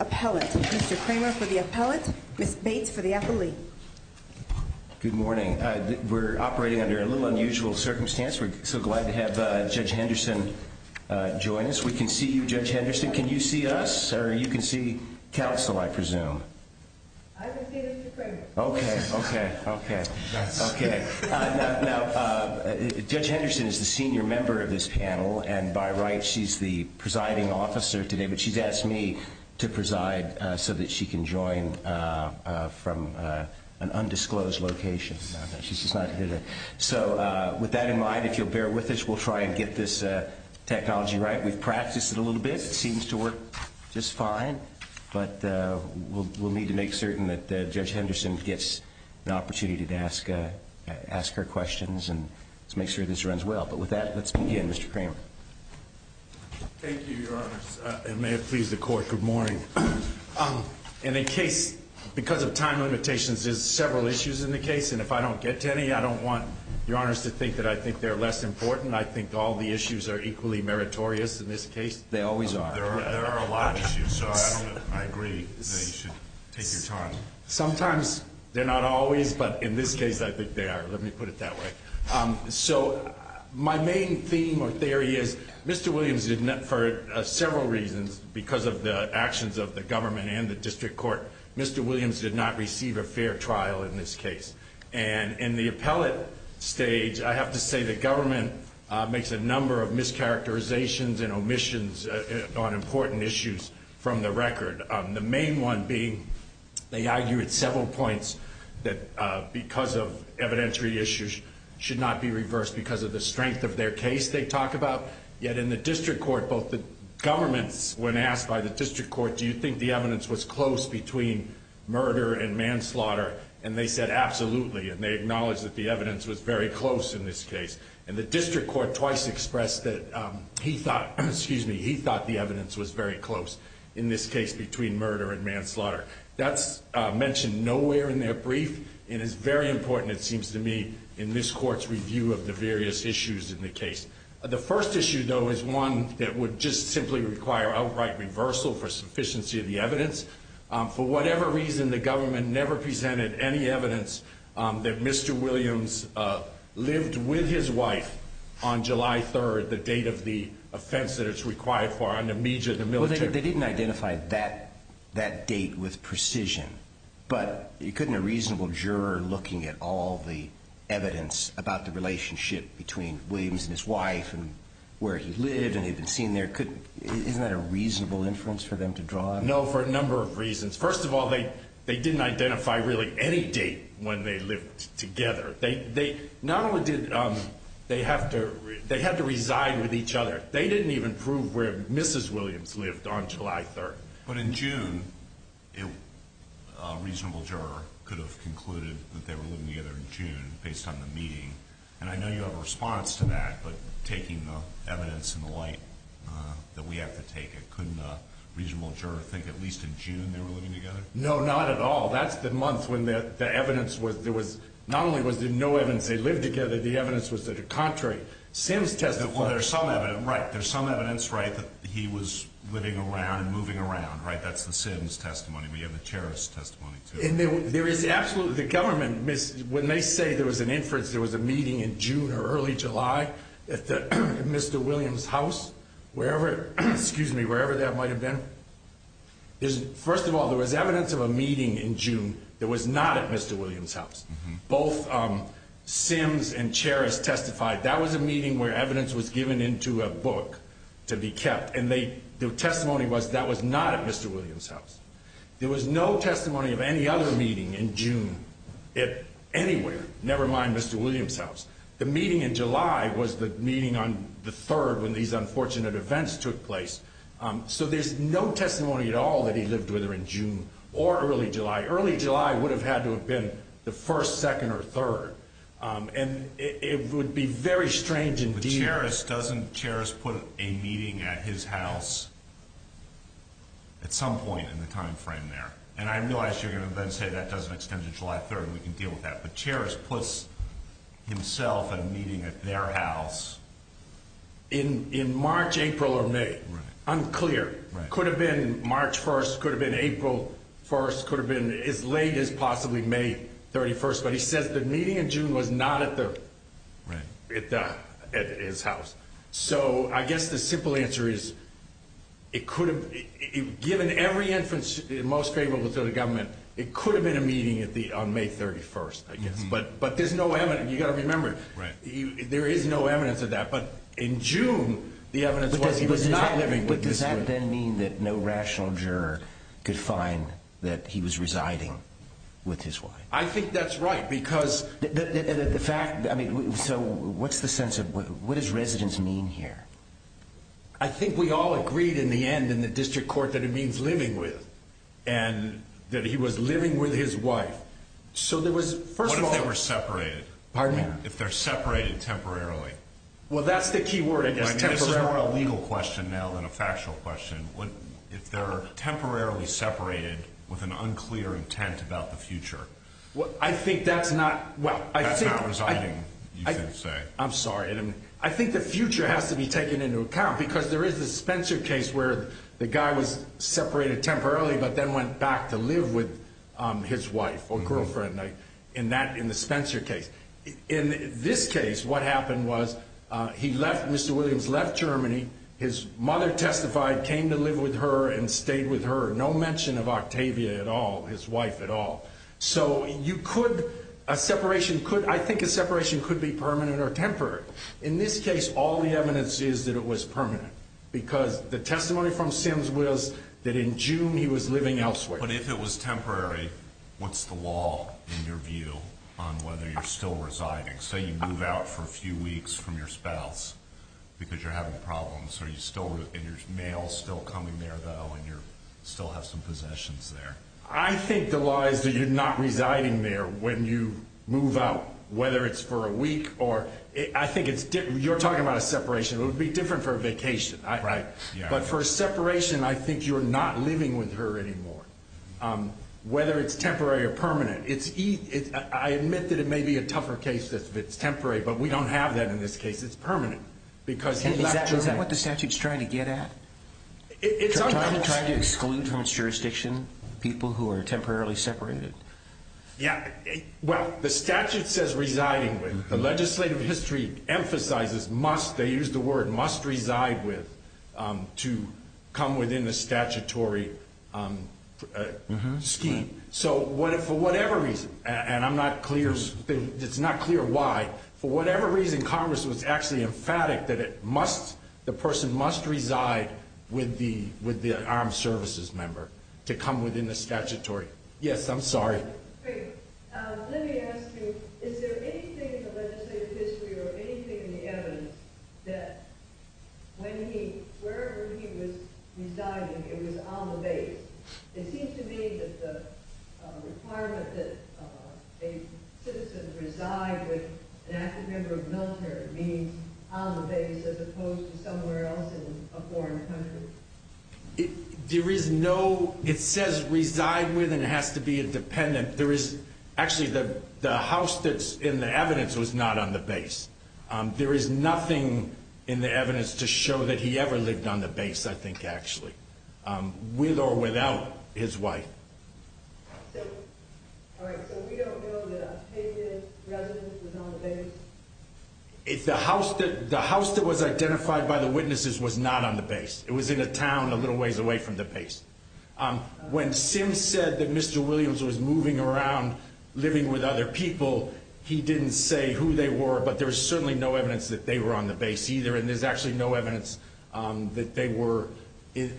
Appellate, Mr. Kramer for the Appellate, Ms. Bates for the Appellate. Good morning. We're operating under a little unusual circumstance. We're so glad to have Judge Henderson join us. We can see you, Judge Henderson. Can you see us, or you can see counsel, I presume? I can see Mr. Kramer. Okay. Okay. Okay. Okay. Now, Judge Henderson is the senior member of this panel, and by right, she's the presiding officer today, but she's asked me to preside so that she can join from an undisclosed location. So with that in mind, if you'll bear with us, we'll try and get this technology right. We've practiced it a little bit. It seems to work just fine, but we'll need to make certain that Judge Henderson gets the opportunity to ask her questions and to make sure this runs well. But with that, let's begin, Mr. Kramer. Thank you, Your Honors, and may it please the Court, good morning. In a case, because of time limitations, there's several issues in the case, and if I don't get to any, I don't want Your Honors to think that I think they're less important. I think all the issues are equally meritorious in this case. They always are. There are a lot of issues, so I don't know if I agree that you should take your time. Sometimes they're not always, but in this case, I think they are. Let me put it that way. So my main theme or theory is Mr. Williams, for several reasons, because of the actions of the government and the district court, Mr. Williams did not receive a fair trial in this case. And in the appellate stage, I have to say the government makes a number of mischaracterizations and omissions on important issues from the record, the main one being they argue at several points that because of evidentiary issues should not be reversed because of the strength of their case they talk about. Yet in the district court, both the government, when asked by the district court, do you think the evidence was close between murder and manslaughter, and they said absolutely, and they acknowledged that the evidence was very close in this case. And the district court twice expressed that he thought the evidence was very close in this case between murder and manslaughter. That's mentioned nowhere in their brief and is very important, it seems to me, in this court's review of the various issues in the case. The first issue, though, is one that would just simply require outright reversal for sufficiency of the evidence. For whatever reason, the government never presented any evidence that Mr. Williams lived with his wife on July 3rd, the date of the offense that it's required for, on the media, the military. They didn't identify that date with precision, but you couldn't a reasonable juror looking at all the evidence about the relationship between Williams and his wife and where he lived and he'd been seen there, isn't that a reasonable inference for them to draw on? No, for a number of reasons. First of all, they didn't identify really any date when they lived together. Not only did they have to resign with each other, they didn't even prove where Mrs. Williams lived on July 3rd. But in June, a reasonable juror could have concluded that they were living together in June, based on the meeting. And I know you have a response to that, but taking the evidence in light that we have to take, couldn't a reasonable juror think at least in June they were living together? No, not at all. That's the month when the evidence was, not only was there no evidence they lived together, the evidence was the contrary. Well, there's some evidence, right, that he was living around and moving around, right? That's the Sims testimony. We have the Cheris testimony, too. And there is absolutely, the government, when they say there was an inference, there was a meeting in June or early July at Mr. Williams' house, wherever that might have been. First of all, there was evidence of a meeting in June that was not at Mr. Williams' house. Both Sims and Cheris testified that was a meeting where evidence was given into a book to be kept, and the testimony was that was not at Mr. Williams' house. There was no testimony of any other meeting in June anywhere, never mind Mr. Williams' house. The meeting in July was the meeting on the 3rd when these unfortunate events took place. So there's no testimony at all that he lived with her in June or early July. Early July would have had to have been the 1st, 2nd, or 3rd, and it would be very strange indeed. But doesn't Cheris put a meeting at his house at some point in the time frame there? And I realize you're going to then say that doesn't extend to July 3rd, and we can deal with that. But Cheris puts himself at a meeting at their house in March, April, or May. I'm clear. It could have been March 1st. It could have been April 1st. It could have been as late as possibly May 31st. But he says the meeting in June was not at his house. So I guess the simple answer is it could have been. Given every instance most favorable to the government, it could have been a meeting on May 31st. But there's no evidence. You've got to remember, there is no evidence of that. But in June, the evidence was he was not living with his wife. But does that then mean that no rational juror could find that he was residing with his wife? I think that's right. So what's the sense of what does residence mean here? I think we all agreed in the end in the district court that it means living with and that he was living with his wife. What if they were separated? If they're separated temporarily? Well, that's the key word. It's more a legal question now than a factual question. If they're temporarily separated with an unclear intent about the future. I think that's not... That's not residing, you can say. I'm sorry. I think the future has to be taken into account. Because there is the Spencer case where the guy was separated temporarily but then went back to live with his wife or girlfriend. In the Spencer case. In this case, what happened was Mr. Williams left Germany. His mother testified, came to live with her and stayed with her. No mention of Octavia at all, his wife at all. So you could... I think a separation could be permanent or temporary. In this case, all the evidence is that it was permanent. Because the testimony from Sims was that in June he was living elsewhere. But if it was temporary, what's the law in your view on whether you're still residing? Say you move out for a few weeks from your spouse because you're having problems. Are you still... Is your mail still coming there, though? Do you still have some possessions there? I think the law is that you're not residing there when you move out. Whether it's for a week or... I think it's different. You're talking about a separation. It would be different for a vacation. But for a separation, I think you're not living with her anymore. Whether it's temporary or permanent. I admit that it may be a tougher case if it's temporary, but we don't have that in this case. It's permanent. Is that what the statute's trying to get at? Trying to exclude from its jurisdiction people who are temporarily separated? Yeah. Well, the statute says residing with. The legislative history emphasizes must. They use the word must reside with to come within the statutory scheme. So for whatever reason, and I'm not clear. It's not clear why. For whatever reason, Congress was actually emphatic that the person must reside with the armed services member to come within the statutory. Yes, I'm sorry. Let me ask you, is there anything in the legislative history or anything in the evidence that whenever he was residing, he was on the base, it seems to me that the requirement that a citizen reside with an active member of the military, meaning on the base as opposed to somewhere else in a foreign country. There is no – it says reside with and has to be independent. There is – actually, the house that's in the evidence was not on the base. There is nothing in the evidence to show that he ever lived on the base, I think, actually, with or without his wife. All right. So we don't know that a citizen's residence was on the base? The house that was identified by the witnesses was not on the base. It was in a town a little ways away from the base. When Sims said that Mr. Williams was moving around, living with other people, he didn't say who they were, but there's certainly no evidence that they were on the base either, and there's actually no evidence that they were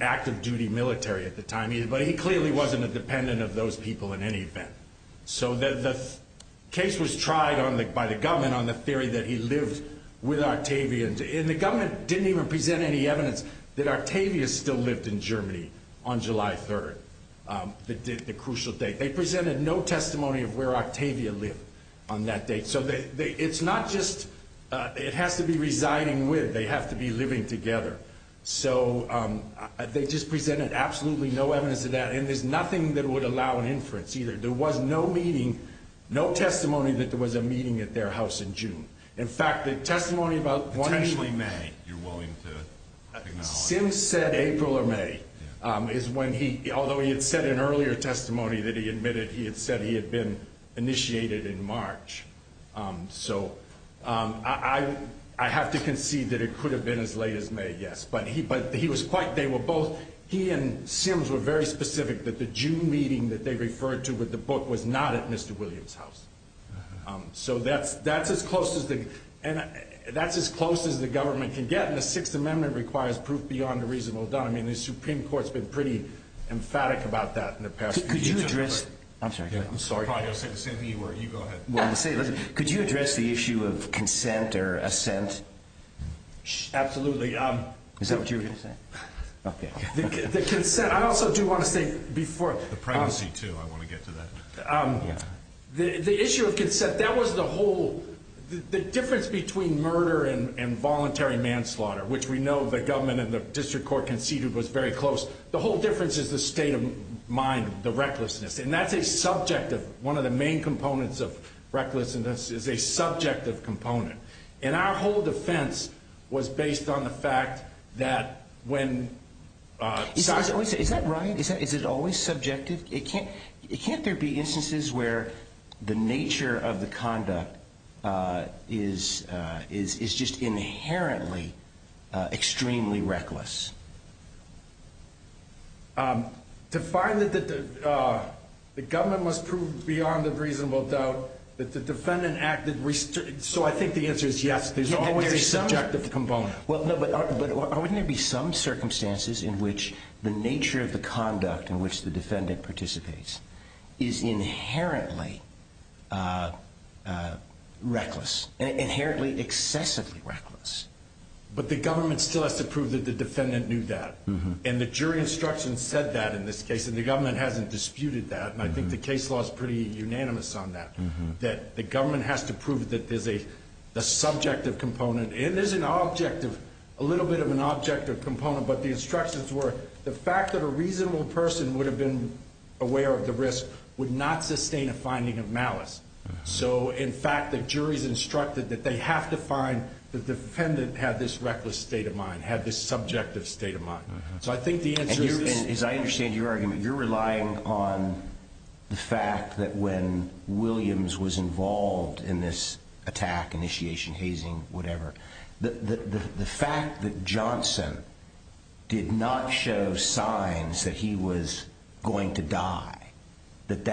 active-duty military at the time. But he clearly wasn't a dependent of those people in any event. So the case was tried by the government on the theory that he lived with Octavians, and the government didn't even present any evidence that Octavians still lived in Germany on July 3rd, the crucial date. They presented no testimony of where Octavia lived on that date. So it's not just it has to be residing with. They have to be living together. So they just presented absolutely no evidence of that, and there's nothing that would allow an inference either. There was no meeting, no testimony that there was a meeting at their house in June. In fact, the testimony about 1 April or May is when he, although he had said in earlier testimony that he admitted he had said he had been initiated in March. So I have to concede that it could have been as late as May, yes. But he was quite, they were both, he and Sims were very specific that the June meeting that they referred to with the book was not at Mr. Williams' house. So that's as close as the government can get, and the Sixth Amendment requires proof beyond a reasonable doubt. I mean, the Supreme Court's been pretty emphatic about that in the past few years. Could you address the issue of consent or assent? Absolutely. Is that what you were going to say? The issue of consent, that was the whole, the difference between murder and voluntary manslaughter, which we know the government and the district court conceded was very close. The whole difference is the state of mind, the recklessness. And that's a subjective, one of the main components of recklessness is a subjective component. And our whole defense was based on the fact that when- Is that right? Is it always subjective? Can't there be instances where the nature of the conduct is just inherently extremely reckless? To find that the government must prove beyond a reasonable doubt that the defendant acted- So I think the answer is yes. There's always a subjective component. Well, no, but aren't there going to be some circumstances in which the nature of the conduct in which the defendant participates is inherently reckless, inherently excessively reckless? But the government still has to prove that the defendant knew that. And the jury instruction said that in this case, and the government hasn't disputed that. And I think the case law is pretty unanimous on that, that the government has to prove that there's a subjective component. It is an objective, a little bit of an objective component, but the instructions were the fact that a reasonable person would have been aware of the risk would not sustain a finding of malice. So, in fact, the jury's instructed that they have to find the defendant had this reckless state of mind, had this subjective state of mind. So I think the answer- And as I understand your argument, you're relying upon the fact that when Williams was involved in this attack, initiation, hazing, whatever, the fact that Johnson did not show signs that he was going to die, that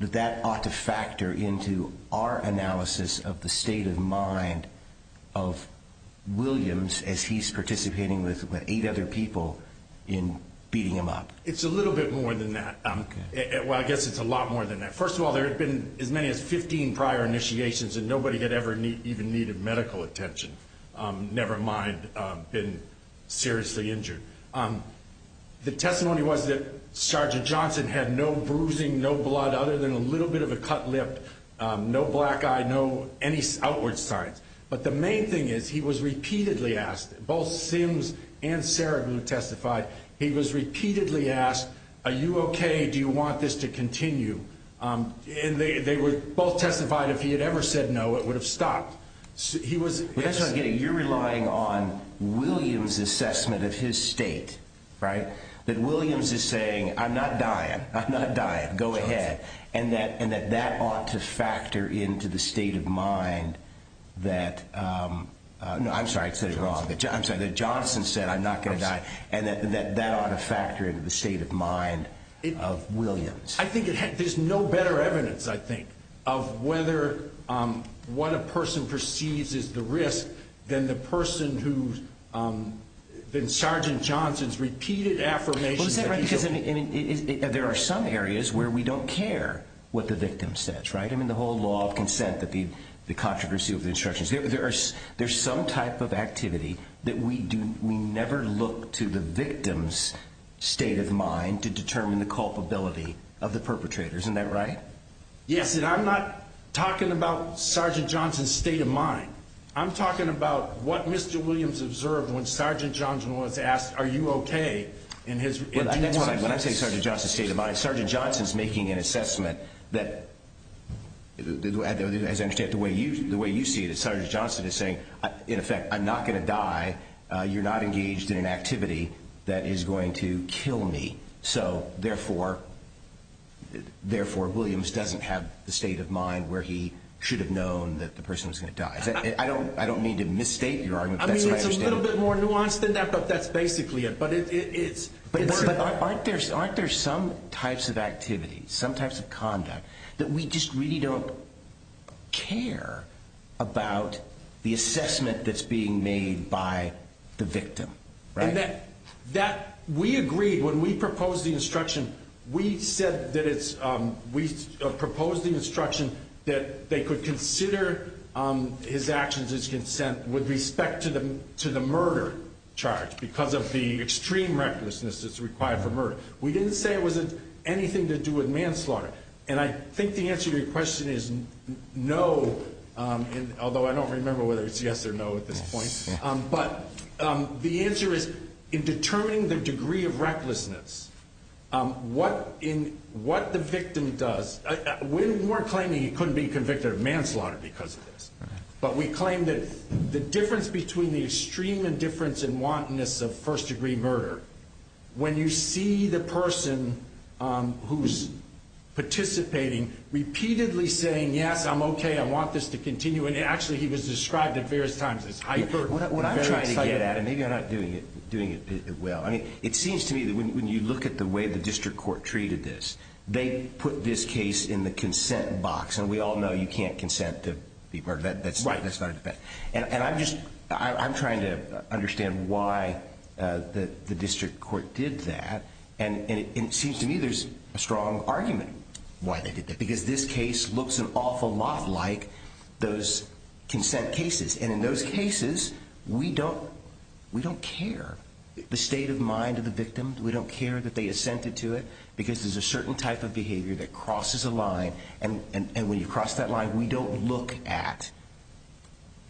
that ought to factor into our analysis of the state of mind of Williams as he's participating with eight other people in beating him up. It's a little bit more than that. Well, I guess it's a lot more than that. First of all, there had been as many as 15 prior initiations, and nobody had ever even needed medical attention, never mind been seriously injured. The testimony was that Sergeant Johnson had no bruising, no blood, other than a little bit of a cut lip, no black eye, no any outward signs. But the main thing is he was repeatedly asked, both Sims and Sarah who testified, he was repeatedly asked, are you okay, do you want this to continue? And they both testified if he had ever said no, it would have stopped. That's what I'm getting, you're relying on Williams' assessment of his state, right? That Williams is saying, I'm not dying, I'm not dying, go ahead. And that that ought to factor into the state of mind that, I'm sorry, I said it wrong, that Johnson said I'm not going to die, and that that ought to factor into the state of mind of Williams. I think there's no better evidence, I think, of whether what a person perceives is the risk than the person who's been Sergeant Johnson's repeated affirmation. There are some areas where we don't care what the victim says, right? I mean, the whole law of consent, the controversy with the instructions, there's some type of activity that we never look to the victim's state of mind to determine the culpability of the perpetrators, isn't that right? Yes, and I'm not talking about Sergeant Johnson's state of mind. I'm talking about what Mr. Williams observed when Sergeant Johnson was asked, are you okay? When I say Sergeant Johnson's state of mind, Sergeant Johnson's making an assessment that, as I understand it, the way you see it is Sergeant Johnson is saying, in effect, I'm not going to die, you're not engaged in an activity that is going to kill me. So, therefore, Williams doesn't have the state of mind where he should have known that the person was going to die. I don't mean to misstate your argument. I mean, it's a little bit more nuanced than that, but that's basically it. But aren't there some types of activities, some types of conduct that we just really don't care about the assessment that's being made by the victim? We agreed when we proposed the instruction, we proposed the instruction that they could consider his actions as consent with respect to the murder charge because of the extreme recklessness that's required for murder. We didn't say it was anything to do with manslaughter, and I think the answer to your question is no, although I don't remember whether it's yes or no at this point. But the answer is, in determining the degree of recklessness, what the victim does, we weren't claiming he couldn't be convicted of manslaughter because of this, but we claimed that the difference between the extreme indifference and wantonness of first-degree murder, when you see the person who's participating repeatedly saying, yes, I'm okay, I want this to continue, and actually he was described at various times as hyperbolic. I'm trying to get at it. Maybe I'm not doing it well. I mean, it seems to me that when you look at the way the district court treated this, they put this case in the consent box, and we all know you can't consent to be part of that. And I'm trying to understand why the district court did that, and it seems to me there's a strong argument why they did that, because this case looks an awful lot like those consent cases. And in those cases, we don't care the state of mind of the victim. We don't care that they assented to it, because there's a certain type of behavior that crosses a line, and when you cross that line, we don't look at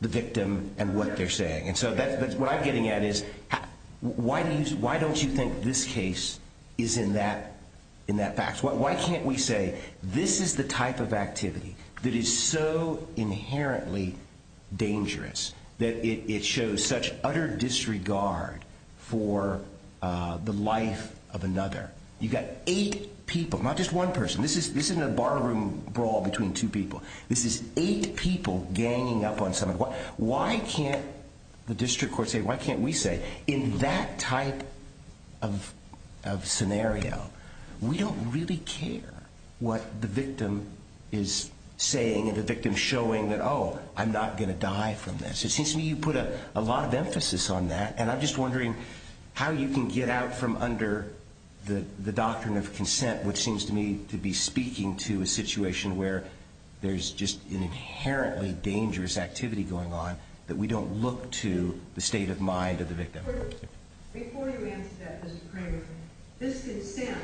the victim and what they're saying. And so what I'm getting at is why don't you think this case is in that box? Why can't we say this is the type of activity that is so inherently dangerous that it shows such utter disregard for the life of another? You've got eight people, not just one person. This isn't a ballroom brawl between two people. This is eight people ganging up on someone. Why can't the district court say, why can't we say, in that type of scenario, we don't really care what the victim is saying and the victim showing that, oh, I'm not going to die from this. It seems to me you put a lot of emphasis on that, and I'm just wondering how you can get out from under the doctrine of consent, which seems to me to be speaking to a situation where there's just an inherently dangerous activity going on that we don't look to the state of mind of the victim. Before you answer that, Mr. Kramer, this consent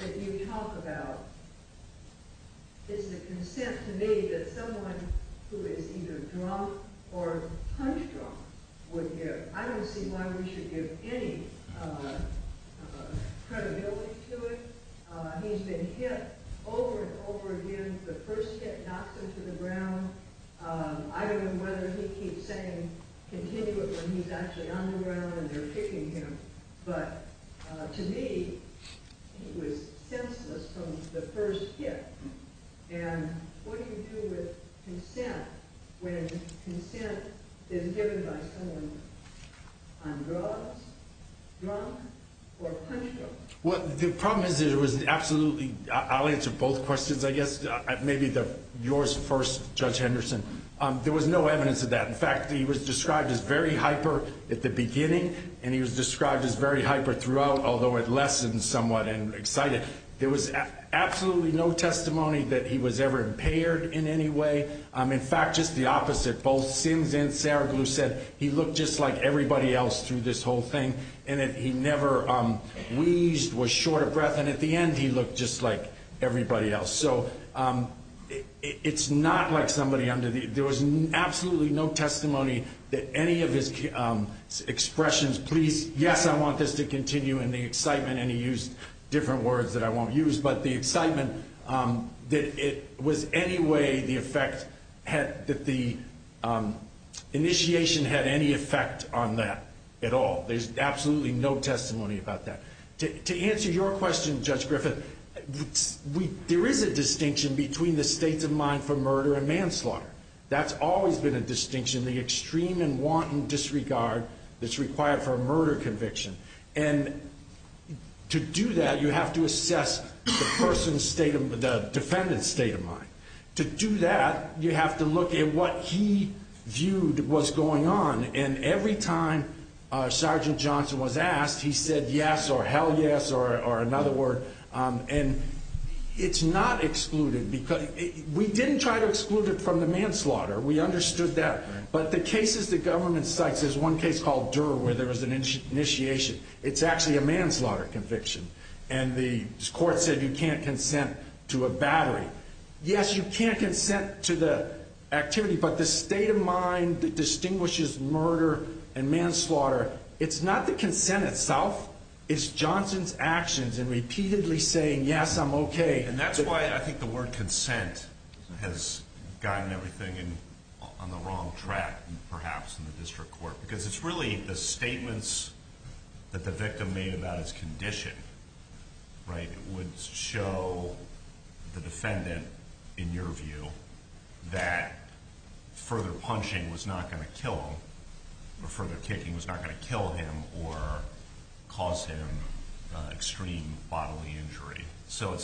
that you talk about is the consent to me that someone who is either drunk or hunched drunk would give. I don't see why we should give any credibility to it. He's been hit over and over again. The first step knocked him to the ground. I don't know whether he keeps saying, continue it, when he's actually under there, when they're hitting him. But to me, it was senseless from the first step. And what do you do with consent when consent is given by someone on drugs, drunk, or hunched drunk? I'll answer both questions, I guess. Maybe yours first, Judge Henderson. There was no evidence of that. In fact, he was described as very hyper at the beginning, and he was described as very hyper throughout, although it lessened somewhat and excited. There was absolutely no testimony that he was ever impaired in any way. In fact, just the opposite. He looked just like everybody else through this whole thing. And he never wheezed, was short of breath. And at the end, he looked just like everybody else. So it's not like somebody under the ‑‑ there was absolutely no testimony that any of his expressions, please, yes, I want this to continue, and the excitement, and he used different words that I won't use. But the excitement that it was any way the effect, that the initiation had any effect on that at all. There's absolutely no testimony about that. To answer your question, Judge Griffith, there is a distinction between the state of mind for murder and manslaughter. That's always been a distinction, the extreme and wanton disregard that's required for a murder conviction. And to do that, you have to assess the defendant's state of mind. To do that, you have to look at what he viewed was going on. And every time Sergeant Johnson was asked, he said yes or hell yes or another word. And it's not excluded. We didn't try to exclude it from the manslaughter. We understood that. But the cases the government cites, there's one case called Dura where there was an initiation. It's actually a manslaughter conviction. And the court said you can't consent to a battery. Yes, you can't consent to the activity, but the state of mind that distinguishes murder and manslaughter, it's not the consent itself. It's Johnson's actions and repeatedly saying yes, I'm okay. And that's why I think the word consent has gotten everything on the wrong track, perhaps, in the district court. Because it's really the statements that the victim made about his condition, right, would show the defendant, in your view, that further punching was not going to kill him, or further kicking was not going to kill him or cause him extreme bodily injury. So I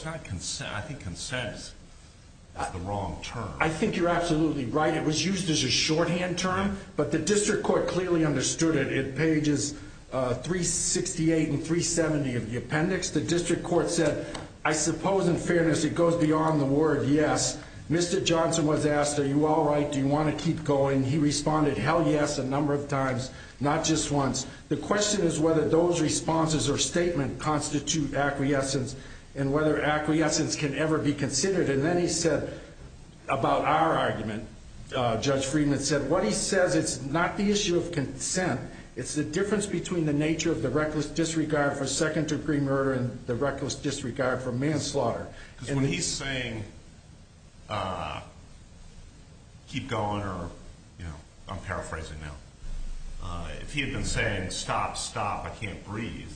think consent is the wrong term. I think you're absolutely right. It was used as a shorthand term, but the district court clearly understood it. In pages 368 and 370 of the appendix, the district court said, I suppose, in fairness, it goes beyond the word yes. Mr. Johnson was asked, are you all right? Do you want to keep going? He responded hell yes a number of times, not just once. The question is whether those responses or statements constitute acquiescence and whether acquiescence can ever be considered. And then he said, about our argument, Judge Friedman said, what he said is not the issue of consent. It's the difference between the nature of the reckless disregard for second-degree murder and the reckless disregard for manslaughter. Because when he's saying, keep going or, you know, I'm paraphrasing now, if he had been saying, stop, stop, I can't breathe,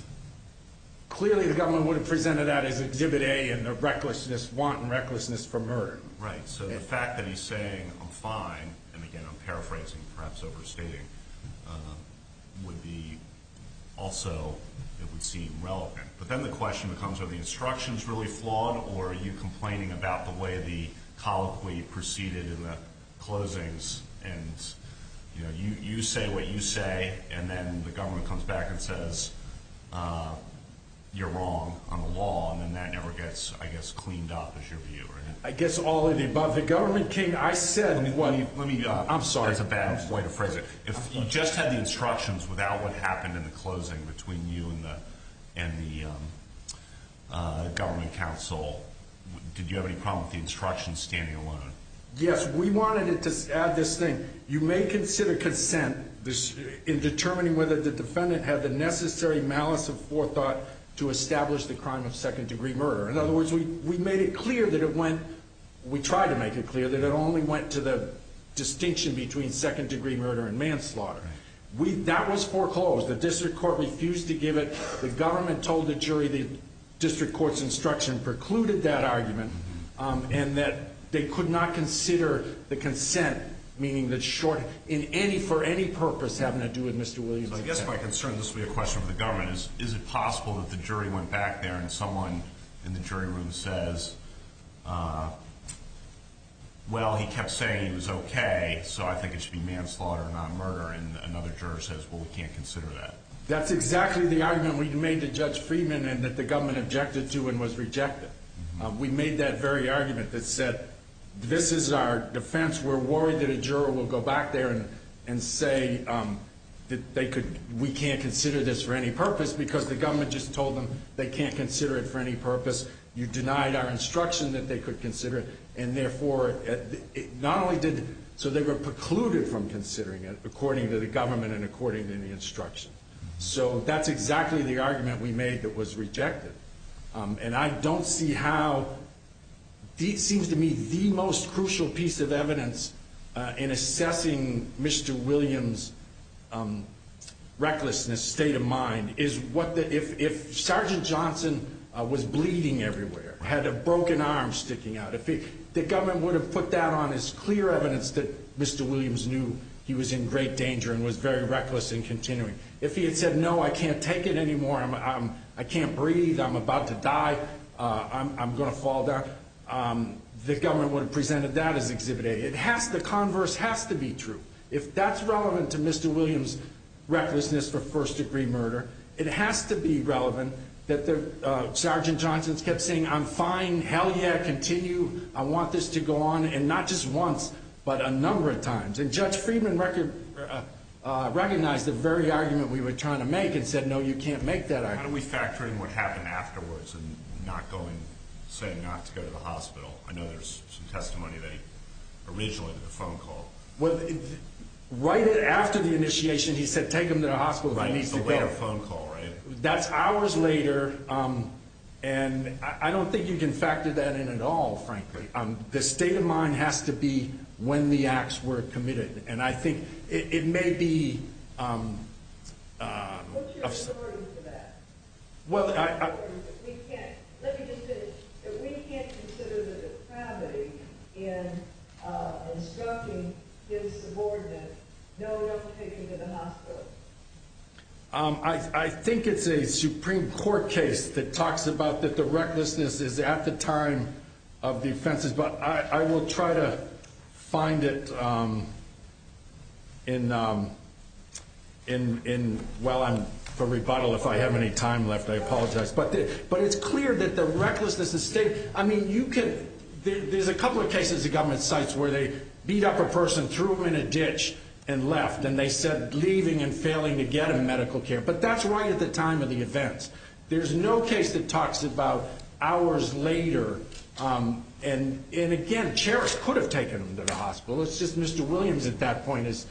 clearly the government would have presented that as a give it a in the recklessness, wanton recklessness for murder. Right. So the fact that he's saying, I'm fine, and, again, I'm paraphrasing, perhaps overstating, would be also, it would seem, relevant. But then the question becomes, are the instructions really flawed, or are you complaining about the way the colloquy proceeded in the closings, and, you know, you say what you say, and then the government comes back and says, you're wrong on the law, and then that never gets, I guess, cleaned up is your view, right? I guess all of the above. The government can't, I said, let me, I'm sorry. It's a bad way to phrase it. If you just had the instructions without what happened in the closing between you and the government counsel, did you have any problem with the instructions standing alone? Yes. We wanted to add this thing. You may consider consent in determining whether the defendant had the necessary malice of forethought to establish the crime of second-degree murder. In other words, we made it clear that it went, we tried to make it clear that it only went to the distinction between second-degree murder and manslaughter. That was foreclosed. The district court refused to give it. The government told the jury the district court's instruction precluded that argument, and that they could not consider the consent, meaning the short, in any, for any purpose having to do with Mr. Williams. I guess my concern, this will be a question for the government, is, is it possible that the jury went back there and someone in the jury room says, well, he kept saying it was okay, so I think it should be manslaughter and not murder, and another juror says, well, we can't consider that. That's exactly the argument we made to Judge Friedman and that the government objected to and was rejected. We made that very argument that said, this is our defense. We're worried that a juror will go back there and say that they could, we can't consider this for any purpose because the government just told them they can't consider it for any purpose. You denied our instruction that they could consider it, and therefore, not only did, so they were precluded from considering it according to the government and according to the instruction. So that's exactly the argument we made that was rejected. And I don't see how, it seems to me the most crucial piece of evidence in assessing Mr. Williams' recklessness, state of mind, is what the, if Sergeant Johnson was bleeding everywhere, had a broken arm sticking out of his, the government would have put that on as clear evidence that Mr. Williams knew he was in great danger and was very reckless in continuing. If he had said, no, I can't take it anymore, I can't breathe, I'm about to die, I'm going to fall down, the government would have presented that as exhibit A. The converse has to be true. If that's relevant to Mr. Williams' recklessness for first-degree murder, it has to be relevant that Sergeant Johnson kept saying, I'm fine, hell yeah, continue, I want this to go on, and not just once, but a number of times. And Judge Friedman recognized the very argument we were trying to make and said, no, you can't make that argument. How do we factor in what happened afterwards and not going, saying not to go to the hospital? I know there's some testimony that originally was a phone call. Well, right after the initiation, he said, take him to the hospital. But he still made a phone call, right? That's hours later, and I don't think you can factor that in at all, frankly. The state of mind has to be when the acts were committed. And I think it may be – What's your story to that? Well, I – We can't – let me just say, we can't consider the depravity in instructing his subordinate, no one else taking him to the hospital. I think it's a Supreme Court case that talks about that the recklessness is at the time of defense. But I will try to find it in – well, I'm for rebuttal if I have any time left. I apologize. But it's clear that the recklessness is – I mean, you can – there's a couple of cases in government sites where they beat up a person, threw them in a ditch, and left. And then they said leaving and failing to get him medical care. But that's right at the time of the events. There's no case that talks about hours later. And, again, Cherish could have taken him to the hospital. It's just Mr. Williams at that point is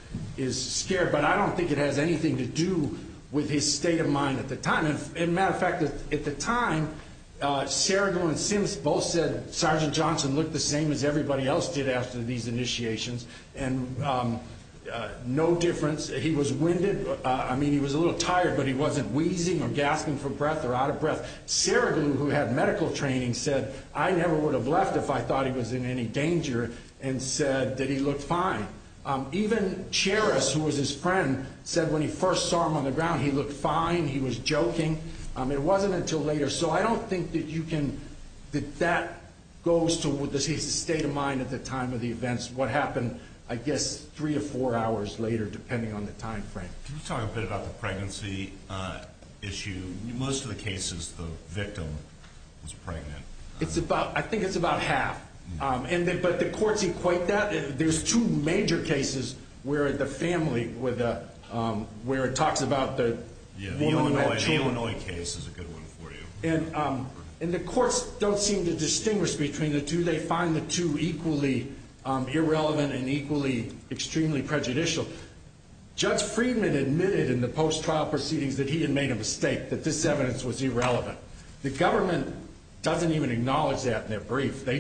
scared. But I don't think it has anything to do with his state of mind at the time. And, as a matter of fact, at the time, Sheridan and Sims both said Sergeant Johnson looked the same as everybody else did after these initiations, and no difference. He was winded. I mean, he was a little tired, but he wasn't wheezing or gasping for breath or out of breath. Sheridan, who had medical training, said, I never would have left if I thought he was in any danger, and said that he looked fine. Even Cherish, who was his friend, said when he first saw him on the ground, he looked fine, he was joking. It wasn't until later. So I don't think that you can ‑‑ that that goes to his state of mind at the time of the events, what happened, I guess, three or four hours later, depending on the time frame. Can you talk a bit about the pregnancy issue? In most of the cases, the victim was pregnant. I think it's about half. But the courts equate that. There's two major cases where the family, where it talks about the Illinois case. Yeah, the Illinois case is a good one for you. And the courts don't seem to distinguish between the two. They find the two equally irrelevant and equally extremely prejudicial. Judge Friedman admitted in the post-trial proceedings that he had made a mistake, that this evidence was irrelevant. The government doesn't even acknowledge that in their brief. They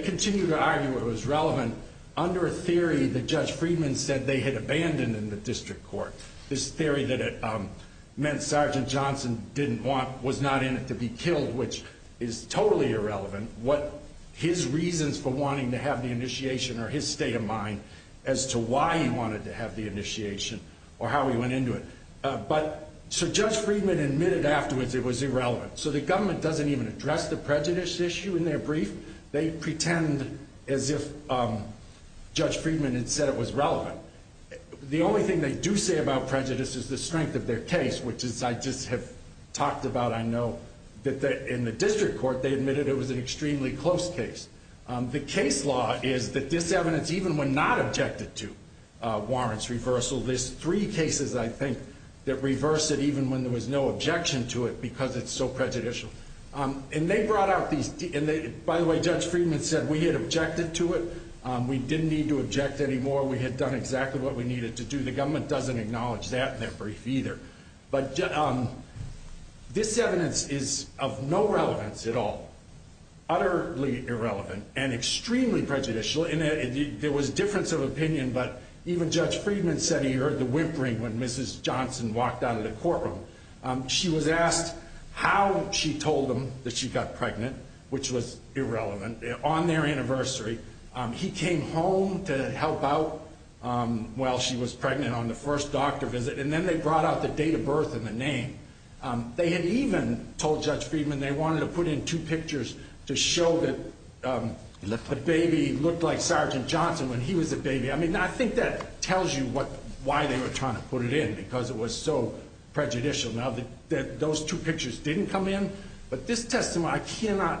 continue to argue it was relevant under a theory that Judge Friedman said they had abandoned in the district court, this theory that it meant Sergeant Johnson was not in it to be killed, which is totally irrelevant, what his reasons for wanting to have the initiation or his state of mind as to why he wanted to have the initiation or how he went into it. So Judge Friedman admitted afterwards it was irrelevant. So the government doesn't even address the prejudice issue in their brief. They pretend as if Judge Friedman had said it was relevant. The only thing they do say about prejudice is the strength of their case, which I just had talked about, I know, that in the district court they admitted it was an extremely close case. The case law is that this evidence, even when not objected to, warrants reversal. There's three cases, I think, that reverse it even when there was no objection to it because it's so prejudicial. And they brought up the – and, by the way, Judge Friedman said we had objected to it. We didn't need to object anymore. We had done exactly what we needed to do. The government doesn't acknowledge that in their brief either. But this evidence is of no relevance at all, utterly irrelevant, and extremely prejudicial. There was difference of opinion, but even Judge Friedman said he heard the whimpering when Mrs. Johnson walked out of the courtroom. She was asked how she told them that she got pregnant, which was irrelevant, on their anniversary. He came home to help out while she was pregnant on the first doctor visit, and then they brought out the date of birth and the name. They had even told Judge Friedman they wanted to put in two pictures to show that the baby looked like Sergeant Johnson when he was a baby. I mean, I think that tells you why they were trying to put it in because it was so prejudicial. Now, those two pictures didn't come in, but this testimony, I cannot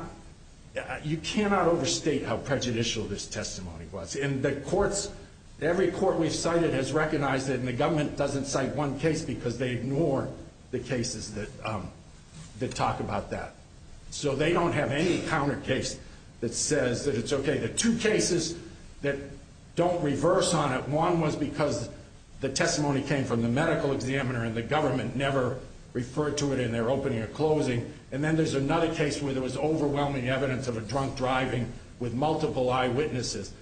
– you cannot overstate how prejudicial this testimony was. Every court we've cited has recognized it, and the government doesn't cite one case because they ignore the cases that talk about that. So they don't have any counter case that says that it's okay. The two cases that don't reverse on it, one was because the testimony came from the medical examiner, and the government never referred to it in their opening or closing. And then there's another case where there was overwhelming evidence of a drunk driving with multiple eyewitnesses.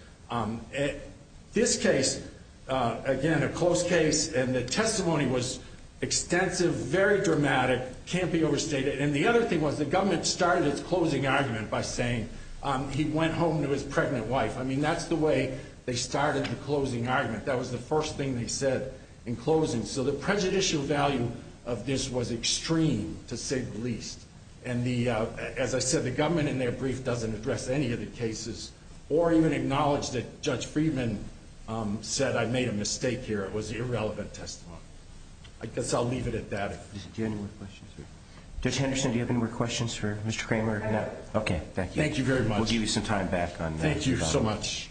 This case, again, a close case, and the testimony was extensive, very dramatic, can't be overstated. And the other thing was the government started its closing argument by saying he went home to his pregnant wife. I mean, that's the way they started the closing argument. That was the first thing they said in closing. So the prejudicial value of this was extreme, to say the least. And the – as I said, the government in their brief doesn't address any of the cases or even acknowledge that Judge Friedman said I made a mistake here. It was irrelevant testimony. I guess I'll leave it at that. Do you have any more questions here? Judge Henderson, do you have any more questions for Mr. Kramer? No. Okay, thank you. Thank you very much. We'll give you some time back on that. Thank you so much.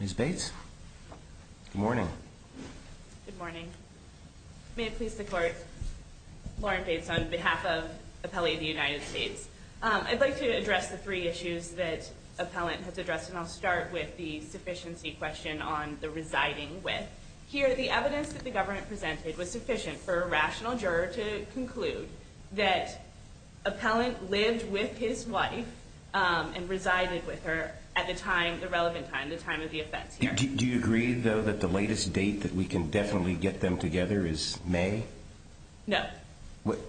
Ms. Bates? Good morning. Good morning. May it please the Court, Warren Bates on behalf of Appellee of the United States. I'd like to address the three issues that Appellant has addressed, and I'll start with the deficiency question on the residing with. Here, the evidence that the government presented was sufficient for a rational juror to conclude that Appellant lived with his wife and resided with her at the time, the relevant time, the time of the offense. Do you agree, though, that the latest date that we can definitely get them together is May? No.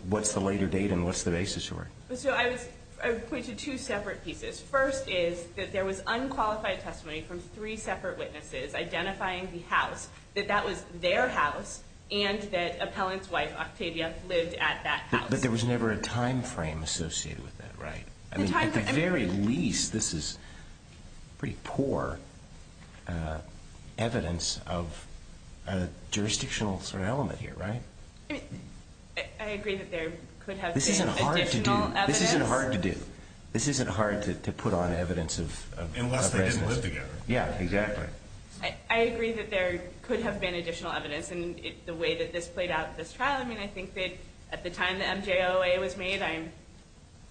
What's the later date and what's the basis for it? So I would point to two separate pieces. First is that there was unqualified testimony from three separate witnesses identifying the house, that that was their house, and that Appellant's wife, Octavia, lived at that house. But there was never a timeframe associated with that, right? I mean, at the very least, this is pretty poor evidence of a jurisdictional element here, right? I agree that there could have been additional evidence. This isn't hard to do. This isn't hard to do. This isn't hard to put on evidence of residence. Unless they didn't live together. Yeah, exactly. I agree that there could have been additional evidence, and it's the way that this played out at this trial. I mean, I think that at the time the MJLA was made, I'm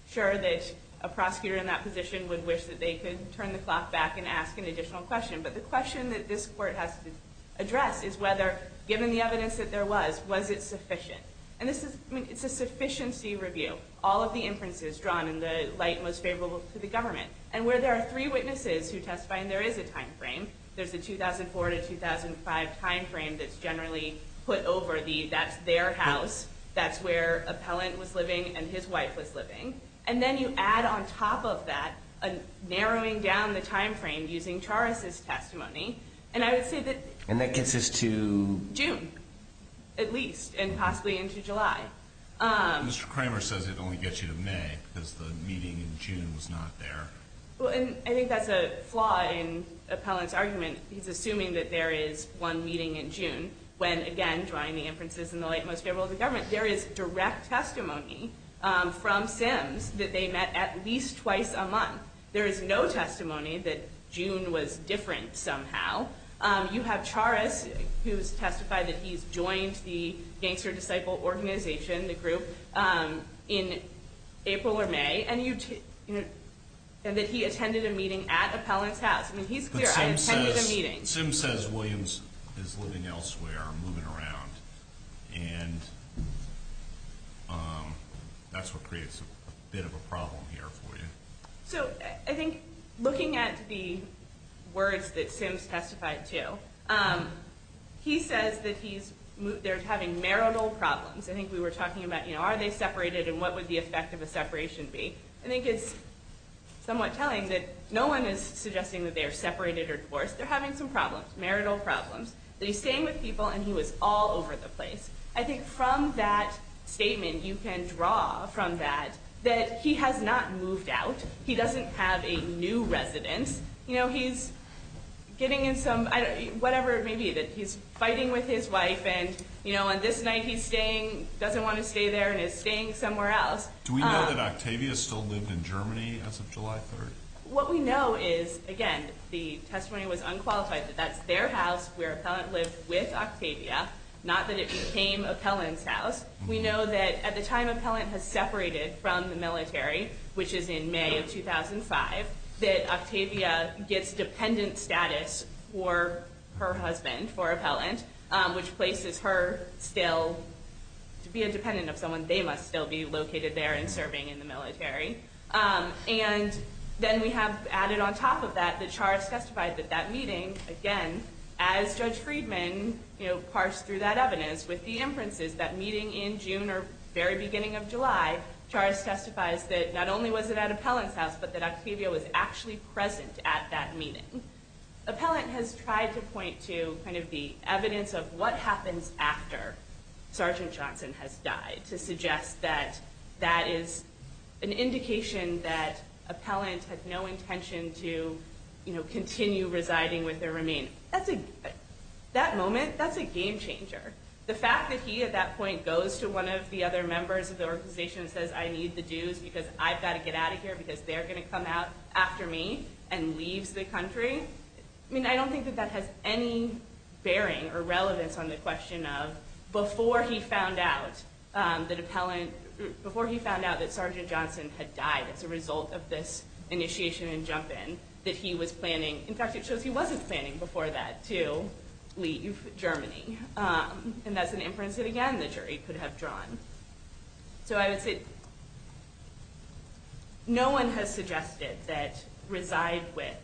sure that a prosecutor in that position would wish that they could turn the clock back and ask an additional question. But the question that this Court has to address is whether, given the evidence that there was, was it sufficient? And it's a sufficiency review. All of the inferences drawn in the light most favorable to the government. And where there are three witnesses who testify, there is a timeframe. There's a 2004 to 2005 timeframe that's generally put over the that's their house. That's where Appellant was living and his wife was living. And then you add on top of that a narrowing down the timeframe using Charest's testimony. And that gets us to? June, at least, and possibly into July. Mr. Kramer says it only gets you to May because the meeting in June was not there. Well, and I think that's a flaw in Appellant's argument. He's assuming that there is one meeting in June when, again, drawing the inferences in the light most favorable to the government, there is direct testimony from them that they met at least twice a month. There is no testimony that June was different somehow. You have Charest who testified that he joined the Gangster Disciple Organization, the group, in April or May, and that he attended a meeting at Appellant's house. I mean, he's clear. I attended a meeting. Sim says Williams is living elsewhere, moving around, and that's what creates a bit of a problem here for you. So I think looking at the words that Sim testified to, he says that they're having marital problems. I think we were talking about, you know, are they separated and what would the effect of a separation be? I think it's somewhat telling that no one is suggesting that they are separated or divorced. They're having some problems, marital problems. They're staying with people and he was all over the place. I think from that statement you can draw from that that he has not moved out. He doesn't have a new residence. You know, he's getting in some whatever it may be. He's fighting with his wife and, you know, on this night he's staying, doesn't want to stay there, and is staying somewhere else. Do we know that Octavia still lived in Germany as of July 3rd? What we know is, again, the testimony was unqualified, that that's their house where Appellant lived with Octavia, not that it became Appellant's house. We know that at the time Appellant had separated from the military, which is in May of 2005, that Octavia gets dependent status for her husband, for Appellant, which places her still to be a dependent of someone, they must still be located there and serving in the military. And then we have added on top of that, the charge specifies at that meeting, again, as Judge Friedman, you know, parsed through that evidence, with the inferences that meeting in June or very beginning of July, charge testifies that not only was it at Appellant's house, but that Octavia was actually present at that meeting. Appellant has tried to point to kind of the evidence of what happens after Sergeant Johnson has died to suggest that that is an indication that Appellant has no intention to, you know, continue residing with their remains. That's a, that moment, that's a game changer. The fact that he at that point goes to one of the other members of the organization and says, I need the dues because I've got to get out of here because they're going to come out after me and leave the country, I mean, I don't think that that has any bearing or relevance on the question of, before he found out that Appellant, before he found out that Sergeant Johnson had died as a result of this initiation and jump in, that he was planning, in fact, it shows he wasn't planning before that to leave Germany. And that's an inference that, again, the jury could have drawn. So I would say no one has suggested that reside with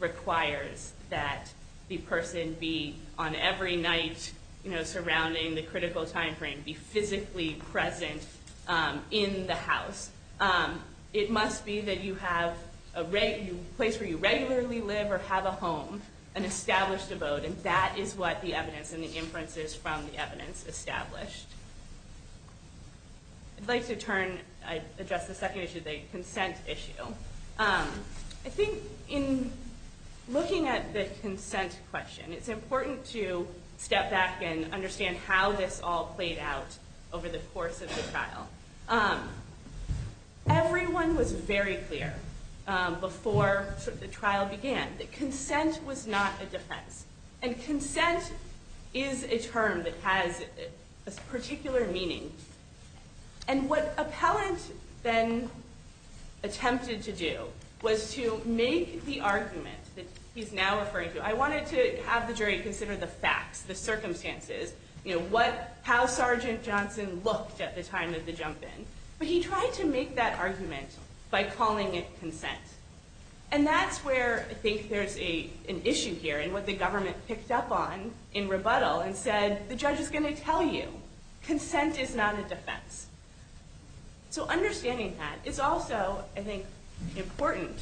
requires that the person be on every night, you know, surrounding the critical time frame, be physically present in the house. It must be that you have a place where you regularly live or have a home and establish the vote. And that is what the evidence and the inferences from the evidence established. I'd like to turn, address the second issue, the consent issue. I think in looking at the consent question, it's important to step back and understand how this all played out over the course of the trial. Everyone was very clear before the trial began that consent was not a defense. And consent is a term that has a particular meaning. And what Appellant then attempted to do was to make the argument that he's now referring to, I wanted to have the jury consider the facts, the circumstances, you know, how Sergeant Johnson looked at the time of the jump in. But he tried to make that argument by calling it consent. And that's where I think there's an issue here and what the government picked up on in rebuttal and said, the judge is going to tell you, consent is not a defense. So understanding that, it's also, I think, important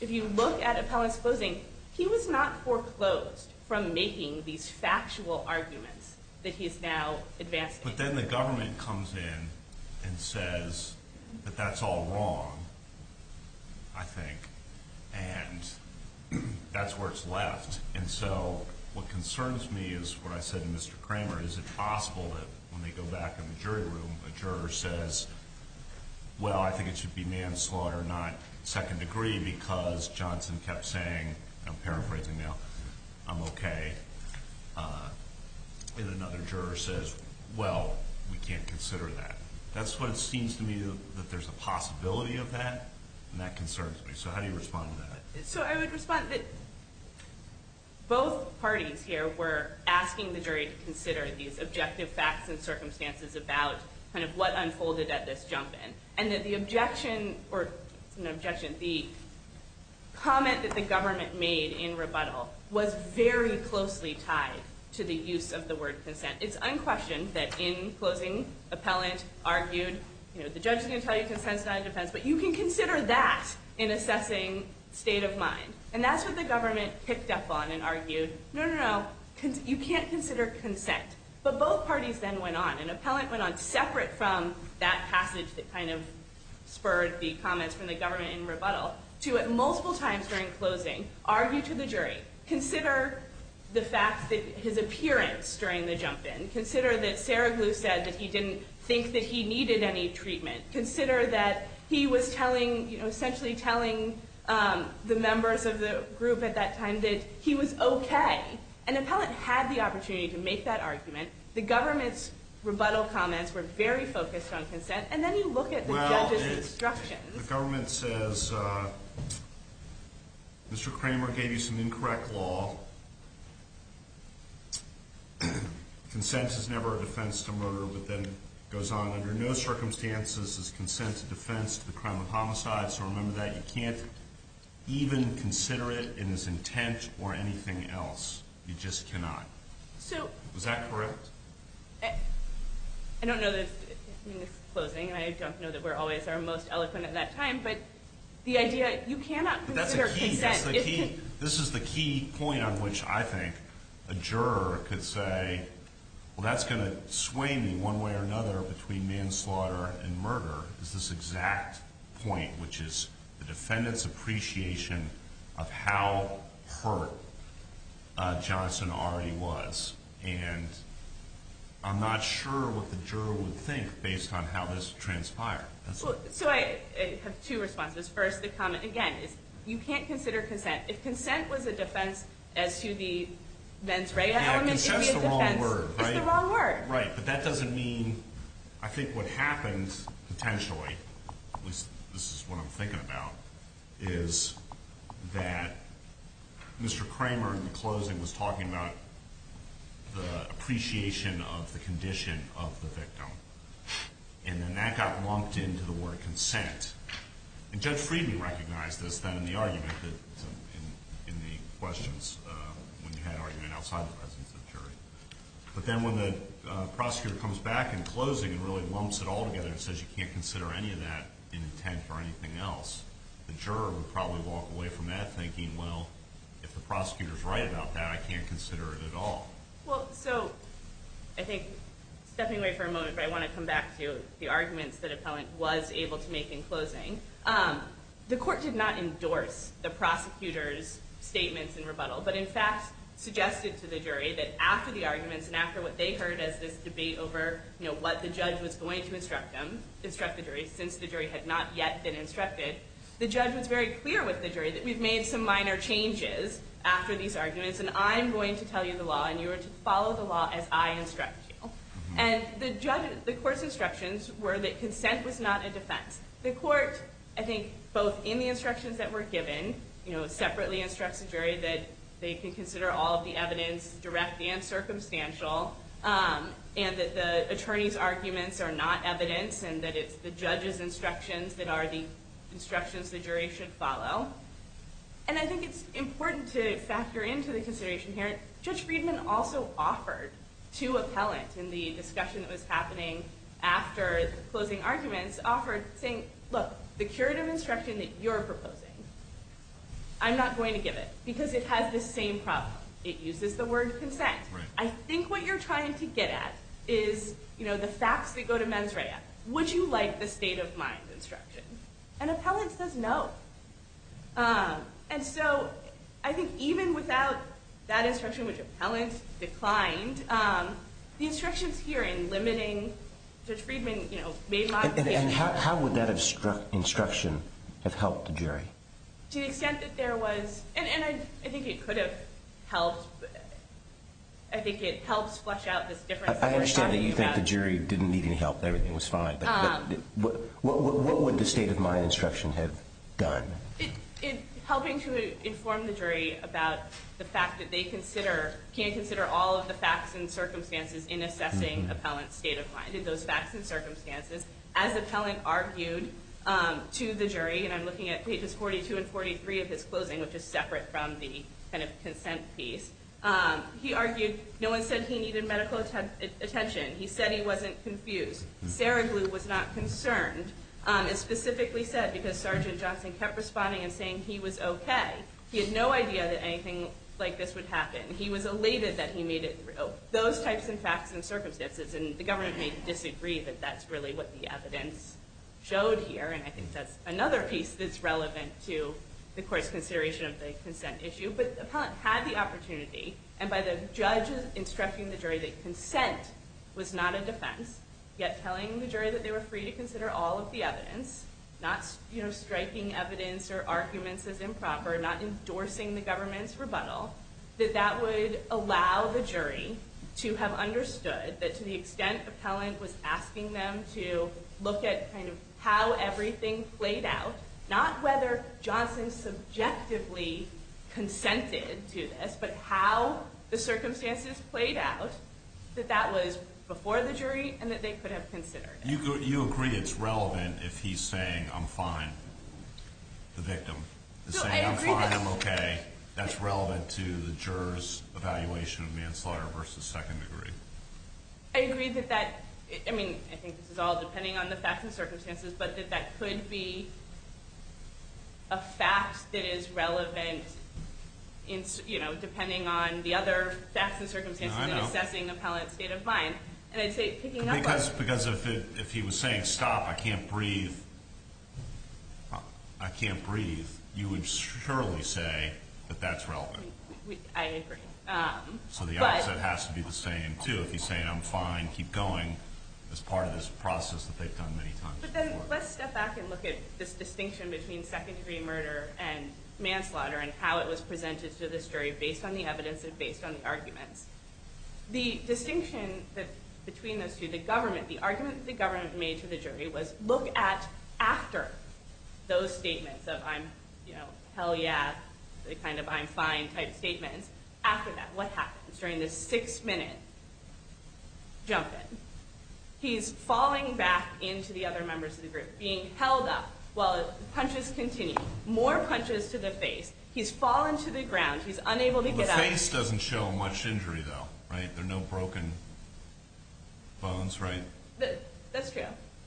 if you look at Appellant's closing, he was not foreclosed from making these factual arguments that he's now advancing. But then the government comes in and says that that's all wrong, I think. And that's where it's left. And so what concerns me is what I said to Mr. Kramer. Is it possible that when we go back in the jury room, the juror says, well, I think it should be manslaughter, not second degree, because Johnson kept saying, I'm paraphrasing now, I'm okay. And another juror says, well, we can't consider that. That's what it seems to me that there's a possibility of that, and that concerns me. So how do you respond to that? So I would respond that both parties here were asking the jury to consider these objective facts and circumstances about kind of what unfolded at this jump in. And that the objection, or objection B, comment that the government made in rebuttal was very closely tied to the use of the word consent. It's unquestioned that in closing, Appellant argued, you know, the judge is going to tell you consent is not a defense, but you can consider that in assessing state of mind. And that's what the government picked up on and argued, no, no, no, you can't consider consent. But both parties then went on, and Appellant went on separate from that passage that kind of spurred the comments from the government in rebuttal, to at multiple times during closing, argue to the jury. Consider the fact that his appearance during the jump in. Consider that Sarah Glue said that he didn't think that he needed any treatment. Consider that he was telling, you know, essentially telling the members of the group at that time that he was okay. And Appellant had the opportunity to make that argument. The government's rebuttal comments were very focused on consent. And then you look at the judge's instruction. The government says, Mr. Kramer gave you some incorrect law. Consent is never a defense to murder. But then it goes on, under no circumstances is consent a defense to the crime of homicide. So remember that. You can't even consider it in his intent or anything else. You just cannot. Is that correct? I don't know this closing. I don't know that we're always our most eloquent at that time. But the idea, you cannot consider consent. This is the key point on which I think a juror could say, well, that's going to sway me one way or another between manslaughter and murder is this exact point, which is the defendant's appreciation of how hurt Jonathan already was. And I'm not sure what the juror would think based on how this transpired. So I have two responses. First, the comment, again, you can't consider consent. If consent was a defense as to the then trade-off. That's the wrong word, right? That's the wrong word. Right. But that doesn't mean, I think what happens potentially, this is what I'm thinking about, is that Mr. Kramer in the closing was talking about the appreciation of the condition of the victim. And then that got lumped into the word consent. And Judge Friedman recognized this, that in the argument, in the questions, when he had already been outside the presence of the jury. But then when the prosecutor comes back in closing and really lumps it all together and says you can't consider any of that in intent or anything else, the juror would probably walk away from that thinking, well, if the prosecutor is right about that, I can't consider it at all. Well, so I think stepping away for a moment, but I want to come back to the arguments that Appellant was able to make in closing. The court did not endorse the prosecutor's statements in rebuttal, but in fact suggested to the jury that after the arguments and after what they heard as this debate over what the judge was going to instruct the jury, since the jury had not yet been instructed, the judge was very clear with the jury that we've made some minor changes after these arguments and I'm going to tell you the law and you are to follow the law as I instruct you. And the court's instructions were that consent was not a defense. The court, I think, both in the instructions that were given, separately instructed the jury that they could consider all of the evidence direct and circumstantial and that the attorney's arguments are not evidence and that it's the judge's instructions that are the instructions the jury should follow. And I think it's important to factor into the consideration here, Judge Friedman also offered to Appellant in the discussion that was happening after the closing arguments, offered, saying, look, the curative instruction that you're proposing, I'm not going to give it because it has the same problem. It uses the word consent. I think what you're trying to get at is, you know, the facts that go to Mentreya. Would you like the state of mind instruction? And Appellant says no. And so I think even without that instruction, which Appellant declined, the instructions here in limiting Judge Friedman, you know, may lie. And how would that instruction have helped the jury? To the extent that there was, and I think it could have helped. I think it helped flesh out this difference. I understand that you think the jury didn't need any help, everything was fine. What would the state of mind instruction have done? It's helping to inform the jury about the fact that they consider, can't consider all of the facts and circumstances in assessing Appellant's state of mind. And those facts and circumstances, as Appellant argued to the jury, and I'm looking at pages 42 and 43 of his closing, which is separate from the kind of consent piece. He argued, no one said he needed medical attention. He said he wasn't confused. Verily was not concerned. It's specifically said because Sergeant Johnson kept responding and saying he was okay. He had no idea that anything like this would happen. He was elated that he made it through. Those types of facts and circumstances, and the government may disagree, but that's really what the evidence showed here, and I think that's another piece that's relevant to the court's consideration of the consent issue. But Appellant had the opportunity, and by the judge instructing the jury that consent was not a defense, yet telling the jury that they were free to consider all of the evidence, not, you know, striking evidence or arguments of improper, not endorsing the government's rebuttal, that that would allow the jury to have understood that to the extent Appellant was asking them to look at kind of how everything played out, not whether Johnson subjectively consented to this, but how the circumstances played out, that that was before the jury and that they could have considered it. You agree it's relevant if he's saying, I'm fine, the victim. He's saying, I'm fine, I'm okay. That's relevant to the juror's evaluation of manslaughter versus second degree. I agree that that, I mean, I think this is all depending on the facts and circumstances, but that that could be a fact that is relevant, you know, depending on the other facts and circumstances in assessing Appellant's state of mind. Because if he was saying, stop, I can't breathe, I can't breathe, you would surely say that that's relevant. I agree. So the opposite has to be the same, too. If he's saying, I'm fine, keep going, that's part of this process that they've done many times before. Let's step back and look at this distinction between second degree murder and manslaughter and how it was presented to the jury based on the evidence and based on the argument. The distinction between the two, the government, the difference the government made to the jury was look at after those statements, so if I'm, you know, hell yeah, kind of I'm fine type statement. After that, what happens? During this six-minute jump in, he's falling back into the other members of the group, being held up while his punches continue. More punches to the face. He's fallen to the ground. He's unable to get up. The face doesn't show much injury, though, right? There are no broken bones, right? That's true.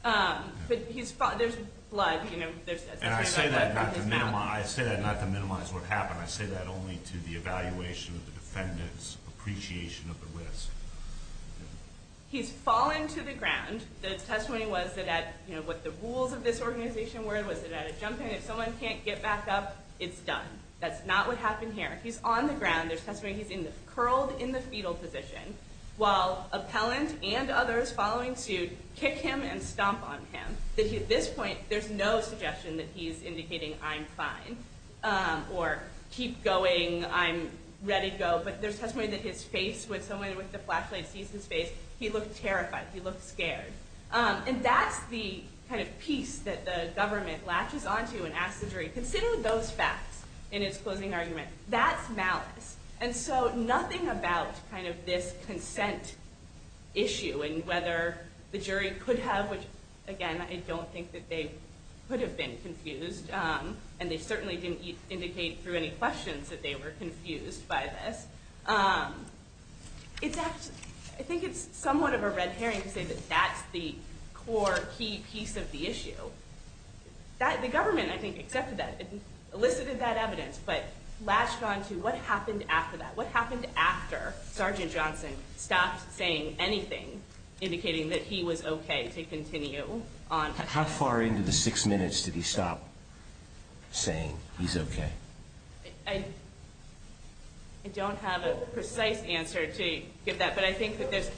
There's blood, you know. I say that not to minimize what happened. I say that only to the evaluation of the defendants' appreciation of the risk. He's fallen to the ground. The testimony was that at, you know, what the rules of this organization were, was that at a jump in, if someone can't get back up, it's done. That's not what happened here. He's on the ground. There's testimony he's curled in the fetal position while appellants and others following suit kick him and stomp on him. At this point, there's no suggestion that he's indicating I'm fine or keep going, I'm ready to go, but there's testimony that his face, when someone with the flashlight beats his face, he looks terrified. He looks scared. And that's the kind of piece that the government latches on to and asks the jury, consider those facts in its closing argument. That's malice. And so nothing about kind of this consent issue and whether the jury could have, which, again, I don't think that they could have been confused, and they certainly didn't indicate through any questions that they were confused by this. I think it's somewhat of a red herring to say that that's the core key piece of the issue. The government, I think, accepted that, elicited that evidence, but latched on to what happened after that, what happened after Sergeant Johnson stopped saying anything indicating that he was okay to continue on. How far into the six minutes did he stop saying he's okay? I don't have a precise answer to give that, but I think that that's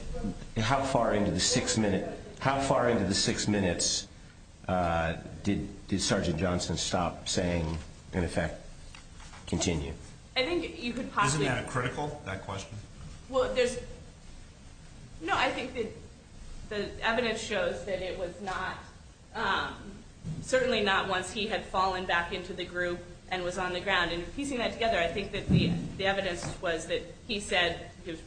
true. How far into the six minutes did Sergeant Johnson stop saying, in effect, continue? Isn't that critical, that question? No, I think the evidence shows that it was not, certainly not once he had fallen back into the group and was on the ground. And piecing that together, I think that the evidence was that he said he was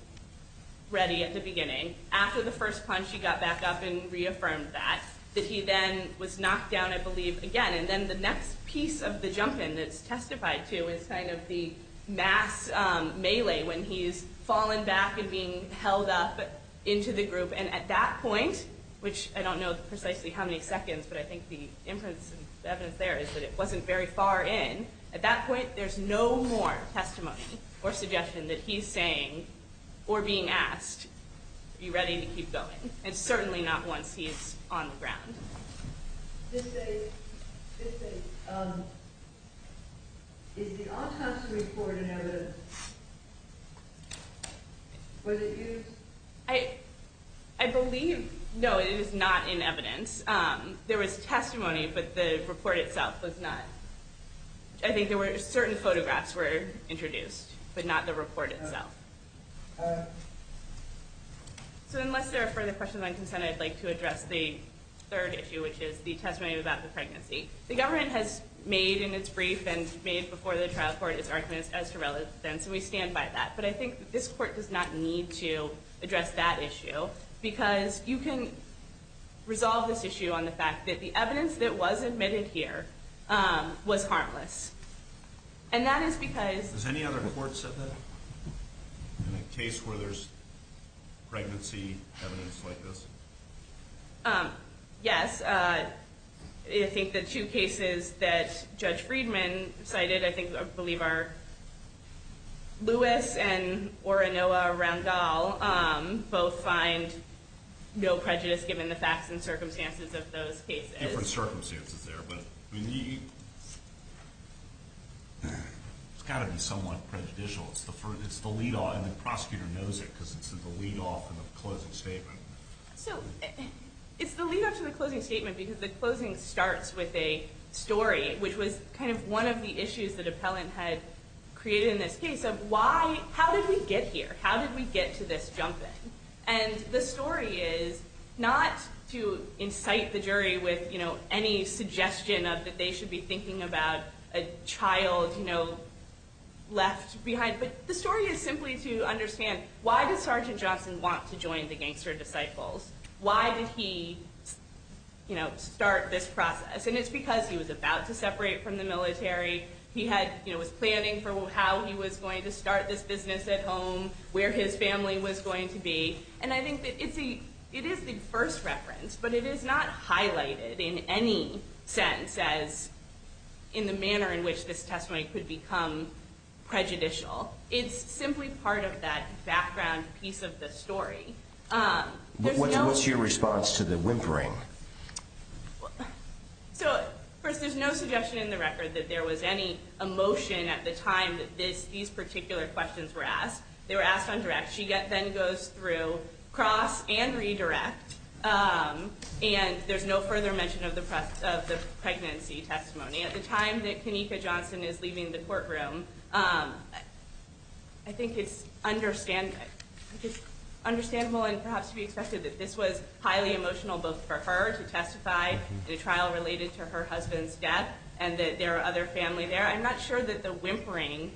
ready at the beginning. After the first punch, he got back up and reaffirmed that. That he then was knocked down, I believe, again. And then the next piece of the jump in that's testified to is kind of the mass melee, when he's fallen back and being held up into the group. And at that point, which I don't know precisely how many seconds, but I think the inference and evidence there is that it wasn't very far in, at that point there's no more testimony or suggestion that he's saying or being asked, are you ready to keep going? And certainly not once he is on the ground. Is the autopsy report in evidence? I believe, no, it is not in evidence. There was testimony, but the report itself was not. I think there were certain photographs were introduced, but not the report itself. So unless there are further questions, I'd like to address the third issue, which is the testimony about the pregnancy. The government has made in its brief and made before the trial court its argument as to relevance, and we stand by that. But I think this court does not need to address that issue, because you can resolve this issue on the fact that the evidence that was admitted here was harmless. And that is because... Has any other court said that? In a case where there's pregnancy evidence like this? Yes. I think the two cases that Judge Friedman cited, I think, I believe are Lewis and Oronoa Randall, both find no prejudice given the facts and circumstances of those cases. Different circumstances there, but it's got to be somewhat prejudicial. It's the lead-off, and the prosecutor knows it, because it's the lead-off to the closing statement. So it's the lead-off to the closing statement, because the closing starts with a story, which was kind of one of the issues that Appellant had created in this case, of how did we get here? How did we get to this jumping? And the story is not to incite the jury with any suggestion that they should be thinking about a child left behind, but the story is simply to understand why does Sergeant Johnson want to join the gangster disciples? Why did he start this process? And it's because he was about to separate from the military. He was planning for how he was going to start this business at home, where his family was going to be. And I think it is the first reference, but it is not highlighted in any sense in the manner in which this testimony could become prejudicial. It's simply part of that background piece of the story. What's your response to the whimpering? First, there's no suggestion in the record that there was any emotion at the time that these particular questions were asked. They were asked on direct. She then goes through cross and redirect, and there's no further mention of the pregnancy testimony. At the time that Kenneka Johnson is leaving the courtroom, I think it's understandable and perhaps to be expected that this was highly emotional both for her to testify, the trial related to her husband's death, and that there are other families there. I'm not sure that the whimpering,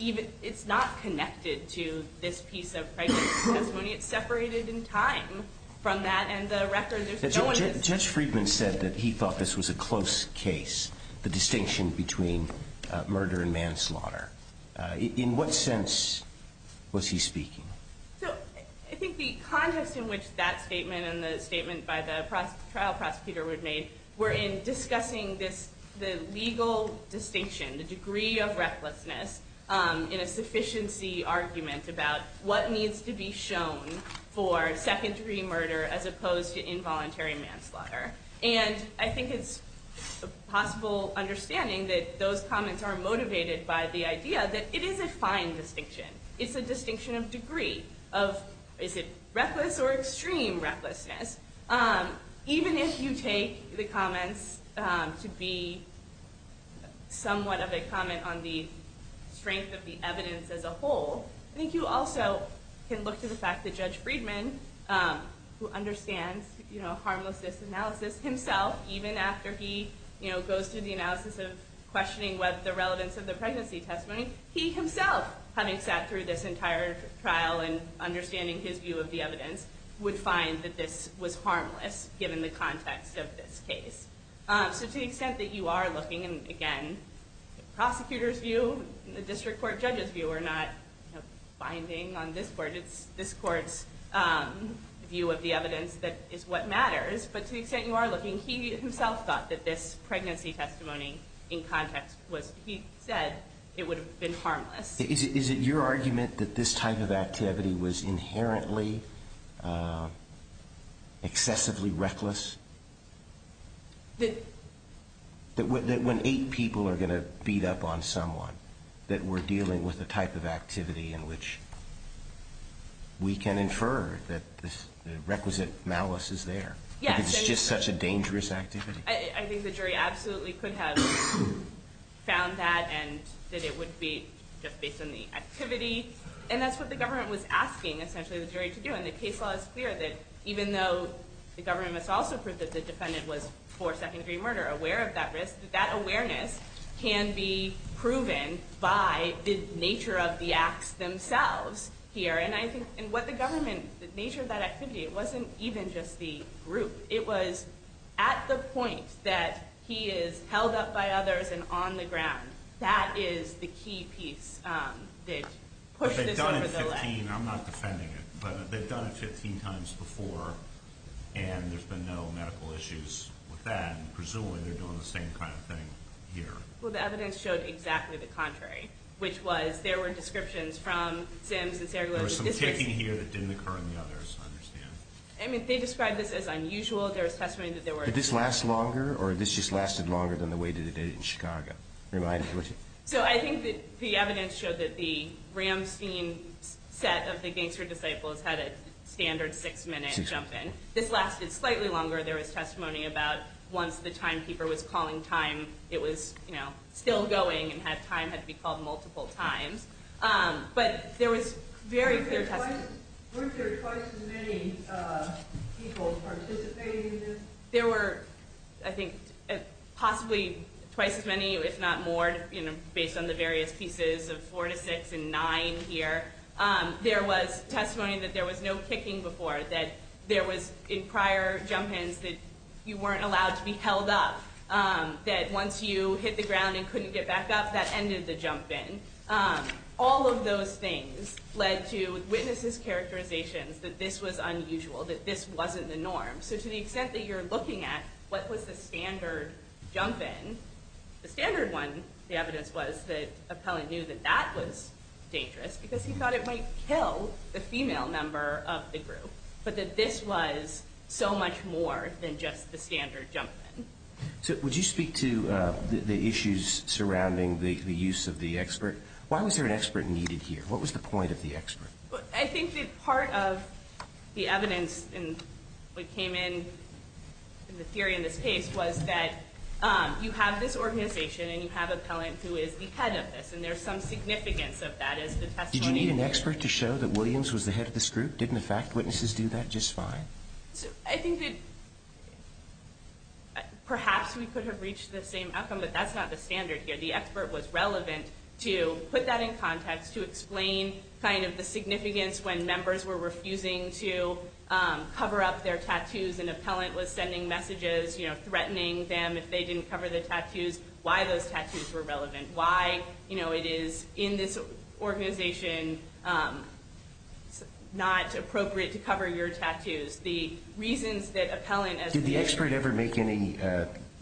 it's not connected to this piece of pregnancy testimony. It's separated in time from that, and the record just goes. Judge Friedman said that he thought this was a close case, the distinction between murder and manslaughter. In what sense was he speaking? I think the context in which that statement and the statement by the trial prosecutor were made were in discussing the legal distinction, the degree of recklessness in a sufficiency argument about what needs to be shown for secondary murder as opposed to involuntary manslaughter. I think it's a possible understanding that those comments are motivated by the idea that it is a fine distinction. It's a distinction of degree, of is it reckless or extreme recklessness. Even if you take the comments to be somewhat of a comment on the strength of the evidence as a whole, I think you also can look to the fact that Judge Friedman, who understands harmless disanalysis himself, even after he goes through the analysis of questioning what's the relevance of the pregnancy testimony, he himself, having sat through this entire trial and understanding his view of the evidence, would find that this was harmless given the context of this case. To the extent that you are looking, and again, the prosecutor's view, the district court judge's view, we're not finding on this court's view of the evidence that it's what matters, but to the extent you are looking, he himself thought that this pregnancy testimony in context of what he said, it would have been harmless. Is it your argument that this type of activity was inherently excessively reckless? That when eight people are going to beat up on someone, that we're dealing with a type of activity in which we can infer that the requisite malice is there? Yeah. It's just such a dangerous activity? I think the jury absolutely could have found that, and that it would be based on the activity. And that's what the government was asking, essentially, the jury to do. And the case law is clear that even though the government must also prove that the defendant was for second degree murder, aware of that risk, that awareness can be proven by the nature of the acts themselves here. And I think what the government, the nature of that activity, it wasn't even just the group. It was at the point that he is held up by others and on the ground. That is the key piece that pushed this over the ledge. They've done it 15, I'm not defending it, but they've done it 15 times before, and there's been no medical issues with that. And presumably they're doing the same kind of thing here. Well, the evidence showed exactly the contrary, which was there were descriptions from sins. There was some kicking here that didn't occur in the others, I understand. I mean, they described this as unusual. Did this last longer, or this just lasted longer than the wait of the day in Chicago? So I think that the evidence showed that the Ramstein set of the gangster disciples had a standard six-minute jump in. This lasted slightly longer. There was testimony about once the timekeeper was calling time, it was still going, and time had to be called multiple times. But there was very clear testimony. Weren't there twice as many people participating in this? There were, I think, possibly twice as many, if not more, based on the various pieces of four to six and nine here. There was testimony that there was no kicking before, that there was in prior jump-ins that you weren't allowed to be held up, that once you hit the ground and couldn't get back up, that ended the jump-in. All of those things led to witnesses' characterizations that this was unusual, that this wasn't the norm. So to the extent that you're looking at what was the standard jump-in, the standard one, the evidence was that Appellant knew that that was dangerous because he thought it might kill the female member of the group, but that this was so much more than just the standard jump-in. Would you speak to the issues surrounding the use of the expert? Why was there an expert needed here? What was the point of the expert? I think that part of the evidence that came in in the theory in this case was that you have this organization, and you have Appellant who is the head of this, and there's some significance of that. Did you need an expert to show that Williams was the head of this group? Didn't the fact witnesses do that just fine? I think that perhaps we could have reached the same outcome, but that's not the standard here. The expert was relevant to put that in context to explain the significance when members were refusing to cover up their tattoos, and Appellant was sending messages threatening them if they didn't cover their tattoos, why those tattoos were relevant, why it is in this organization not appropriate to cover your tattoos. The reasons that Appellant... Did the expert ever make any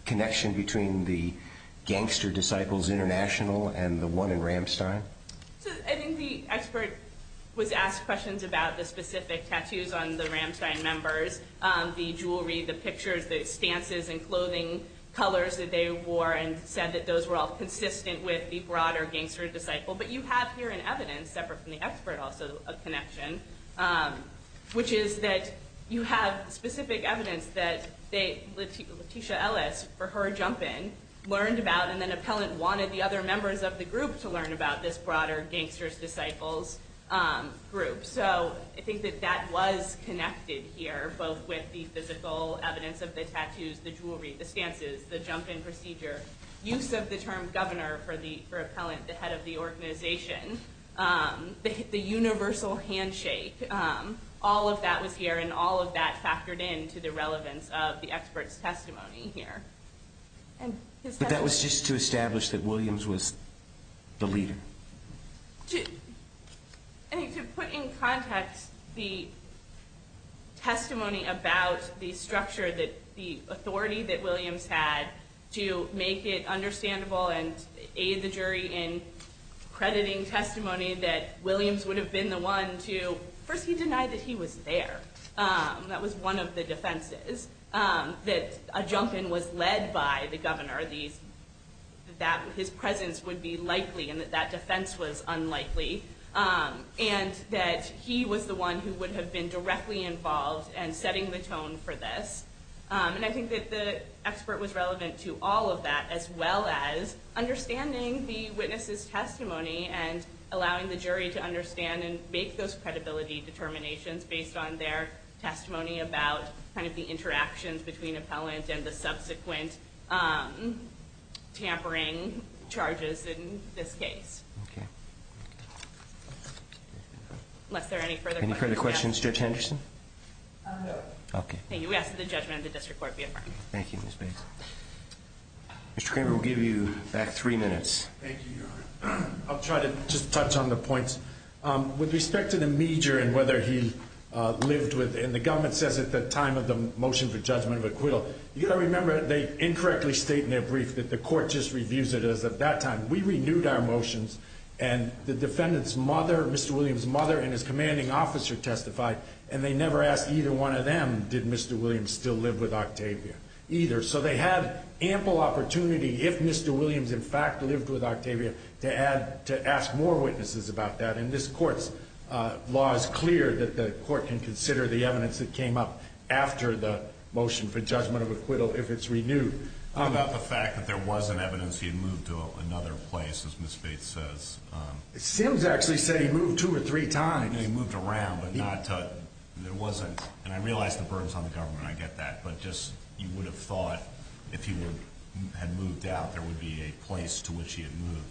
connection between the Gangster Disciples International and the one in Ramstein? I think the expert was asked questions about the specific tattoos on the Ramstein members, the jewelry, the pictures, the stances and clothing, colors that they wore, and said that those were all consistent with the broader Gangster Disciple. But you have here an evidence, separate from the expert also, of connection, which is that you have specific evidence that Leticia Ellis, for her jump in, learned about, and then Appellant wanted the other members of the group to learn about this broader Gangster Disciples group. So I think that that was connected here, both with the physical evidence of the tattoos, the jewelry, the stances, the jump in procedure, use of the term governor for Appellant, the head of the organization, the universal handshake. All of that was here, and all of that factored in to the relevance of the expert's testimony here. But that was just to establish that Williams was the leader? To put in context the testimony about the structure, the authority that Williams had to make it understandable and aid the jury in crediting testimony that Williams would have been the one to, first he denied that he was there. That was one of the defenses, that a jump in was led by the governor, that his presence would be likely and that that defense was unlikely. And that he was the one who would have been directly involved in setting the tone for this. And I think that the expert was relevant to all of that, as well as understanding the witness's testimony and allowing the jury to understand and make those credibility determinations based on their testimony about kind of the interactions between Appellant and the subsequent tampering charges in this case. Okay. Unless there are any further questions. Any further questions Judge Henderson? No. Okay. Thank you. We ask for the judgment of the district court. Thank you, Ms. Bates. Mr. Cranberry will give you back three minutes. Thank you. I'll try to just touch on the points. With respect to the major and whether he lived with, and the government says at the time of the motion for judgment with Quill, you've got to remember they incorrectly state in their brief that the court just reviews it as at that time. We renewed our motions and the defendant's mother, Mr. Williams' mother and his commanding officer testified, and they never asked either one of them, did Mr. Williams still live with Octavia, either. So they had ample opportunity, if Mr. Williams in fact lived with Octavia, to ask more witnesses about that, and this court's law is clear that the court can consider the evidence that came up after the motion for judgment of Quill if it's renewed. How about the fact that there was an evidence he moved to another place, as Ms. Bates says? It seems to actually say he moved two or three times. He moved around, but not to, it wasn't, and I realize the burdens on the government, I get that, but just you would have thought if he had moved out there would be a place to which he had moved.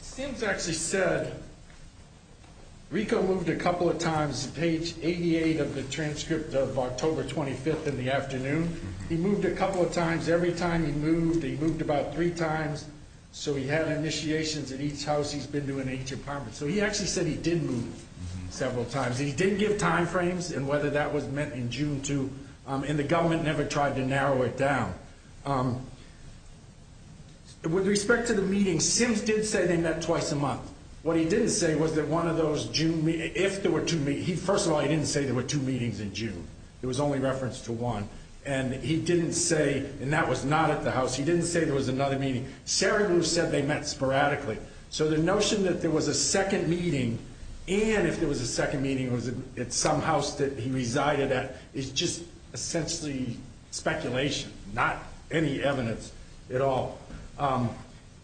It seems to actually say, Rico moved a couple of times to page 88 of the transcript of October 25th in the afternoon. He moved a couple of times. Every time he moved, he moved about three times, so he had initiations in each house he's been to in each encampment. So he actually said he did move several times. He did give time frames and whether that was meant in June, too, and the government never tried to narrow it down. With respect to the meetings, Steve did say they met twice a month. What he didn't say was that one of those June, if there were two meetings, first of all, he didn't say there were two meetings in June. It was only referenced to one, and he didn't say, and that was not at the house, he didn't say there was another meeting. Sherry Lou said they met sporadically. So the notion that there was a second meeting, and if there was a second meeting, it was at some house that he resided at, is just essentially speculation, not any evidence at all.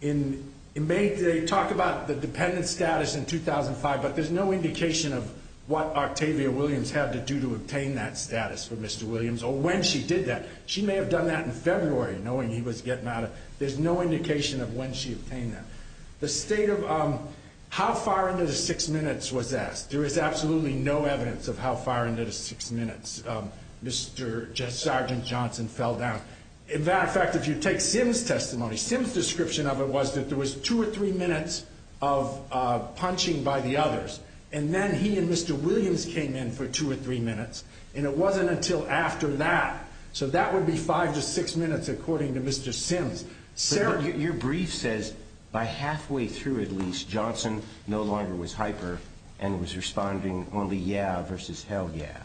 They talk about the dependent status in 2005, but there's no indication of what Octavia Williams had to do to obtain that status for Mr. Williams or when she did that. She may have done that in February, knowing he was getting out of, there's no indication of when she obtained that. The state of, how far into the six minutes was that? There is absolutely no evidence of how far into the six minutes Mr. Sergeant Johnson fell down. As a matter of fact, if you take Sim's testimony, Sim's description of it was that there was two or three minutes of punching by the others, and then he and Mr. Williams came in for two or three minutes, and it wasn't until after that. So that would be five to six minutes, according to Mr. Sim. So your brief says by halfway through at least, Johnson no longer was hyper and was responding only yeah versus hell yeah.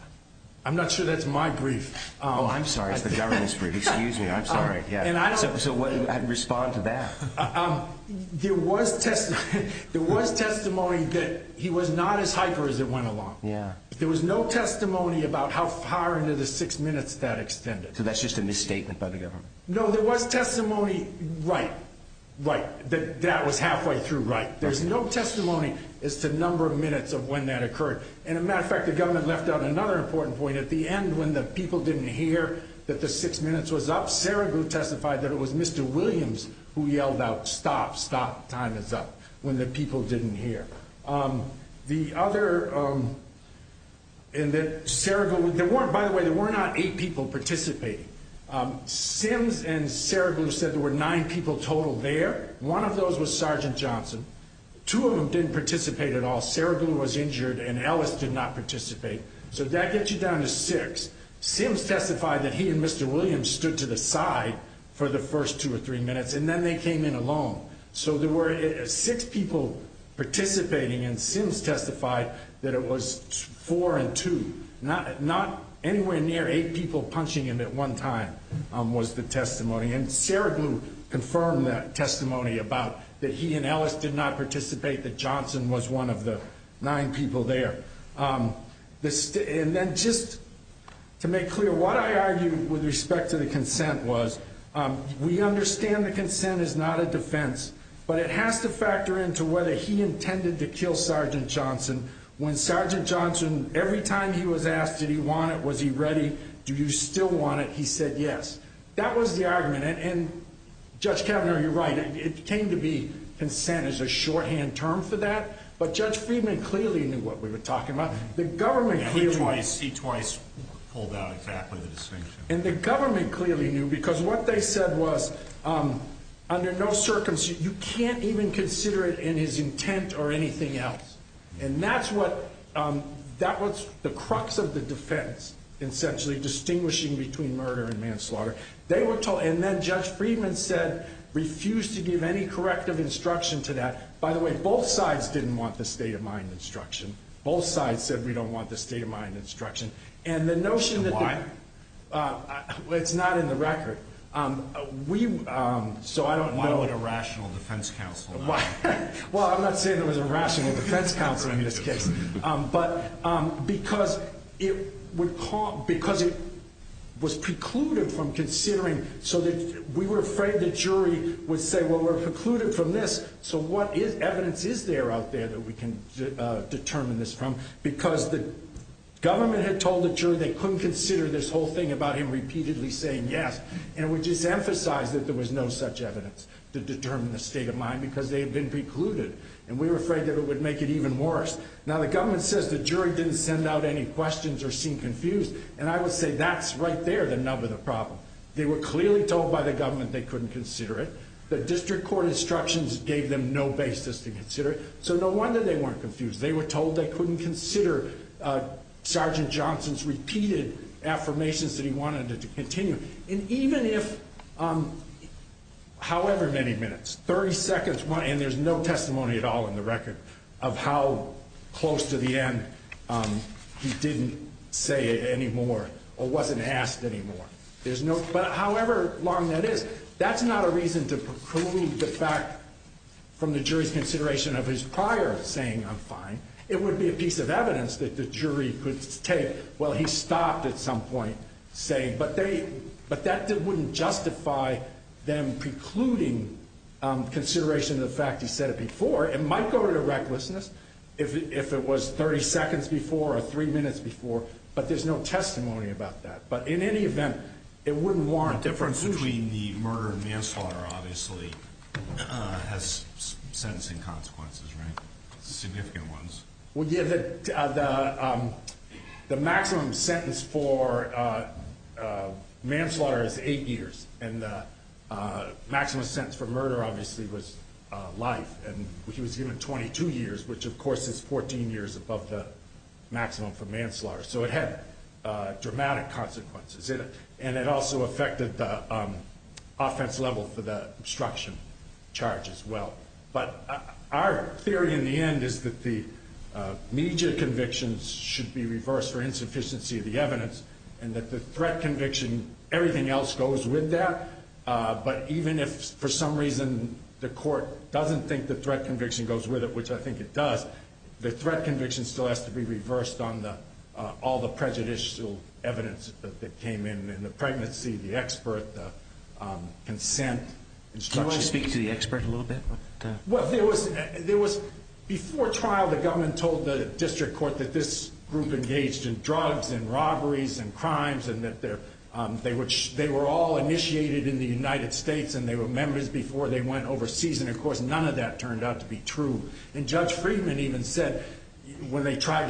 I'm not sure that's my brief. Oh, I'm sorry, it's the government's brief. Excuse me, I'm sorry. So what do you respond to that? There was testimony that he was not as hyper as it went along. Yeah. There was no testimony about how far into the six minutes that extended. So that's just a misstatement by the government? No, there was testimony right, right, that that was halfway through right. There's no testimony as to the number of minutes of when that occurred. As a matter of fact, the government left out another important point. At the end, when the people didn't hear that the six minutes was up, Sarah group testified that it was Mr. Williams who yelled out, stop, stop, time is up, when the people didn't hear. By the way, there were not eight people participating. Sims and Sarah group said there were nine people total there. One of those was Sergeant Johnson. Two of them didn't participate at all. Sarah group was injured and Ellis did not participate. So that gets you down to six. Sims testified that he and Mr. Williams stood to the side for the first two or three minutes and then they came in alone. So there were six people participating and Sims testified that it was four and two. Not anywhere near eight people punching him at one time was the testimony. And Sarah group confirmed that testimony about that he and Ellis did not participate, that Johnson was one of the nine people there. And then just to make clear, what I argued with respect to the consent was we understand the consent is not a defense, but it has to factor into whether he intended to kill Sergeant Johnson. When Sergeant Johnson, every time he was asked did he want it, was he ready, do you still want it, he said yes. That was the argument. And, Judge Kavanaugh, you're right. It came to be consent is a shorthand term for that. But Judge Friedman clearly knew what we were talking about. The government clearly knew. He twice pulled out exactly the same thing. And the government clearly knew because what they said was, under no circumstances, you can't even consider it in his intent or anything else. And that's what, that was the crux of the defense, essentially, distinguishing between murder and manslaughter. And then Judge Friedman said, refused to give any corrective instruction to that. By the way, both sides didn't want the state-of-mind instruction. Both sides said we don't want the state-of-mind instruction. And the notion that the- Why? It's not in the record. We, so I don't know- Why was it a rational defense counsel? Why? Well, I'm not saying it was a rational defense counsel in this case. But because it was precluded from considering, so we were afraid the jury would say, well, we're precluded from this, so what evidence is there out there that we can determine this from? Because the government had told the jury they couldn't consider this whole thing about him repeatedly saying yes. And we just emphasized that there was no such evidence to determine the state-of-mind because they had been precluded. And we were afraid that it would make it even worse. Now, the government says the jury didn't send out any questions or seem confused. And I would say that's right there the nub of the problem. They were clearly told by the government they couldn't consider it. The district court instructions gave them no basis to consider it. So, no wonder they weren't confused. They were told they couldn't consider Sergeant Johnson's repeated affirmations that he wanted to continue. And even if however many minutes, 30 seconds, and there's no testimony at all in the record of how close to the end he didn't say it anymore or wasn't asked anymore. But however long that is, that's not a reason to preclude the fact from the jury's consideration of his prior saying I'm fine. It would be a piece of evidence that the jury could say, well, he stopped at some point saying. But that wouldn't justify them precluding consideration of the fact he said it before. It might go to the right listeners if it was 30 seconds before or three minutes before. But there's no testimony about that. But in any event, it wouldn't warrant. The difference between the murder and manslaughter obviously has sentencing consequences, right? Significant ones. Well, yeah, the maximum sentence for manslaughter is eight years. And the maximum sentence for murder obviously was life, which was given 22 years, which of course is 14 years above the maximum for manslaughter. So, it had dramatic consequences. And it also affected the offense level for the obstruction charge as well. But our theory in the end is that the immediate convictions should be reversed for insufficiency of the evidence. And that the threat conviction, everything else goes with that. But even if for some reason the court doesn't think the threat conviction goes with it, which I think it does, the threat conviction still has to be reversed on all the prejudicial evidence that came in, the pregnancy, the expert, the consent. Do you want to speak to the expert a little bit? Well, there was, before trial, the government told the district court that this group engaged in drugs and robberies and crimes and that they were all initiated in the United States and they were members before they went overseas. And, of course, none of that turned out to be true. And Judge Friedman even said when they tried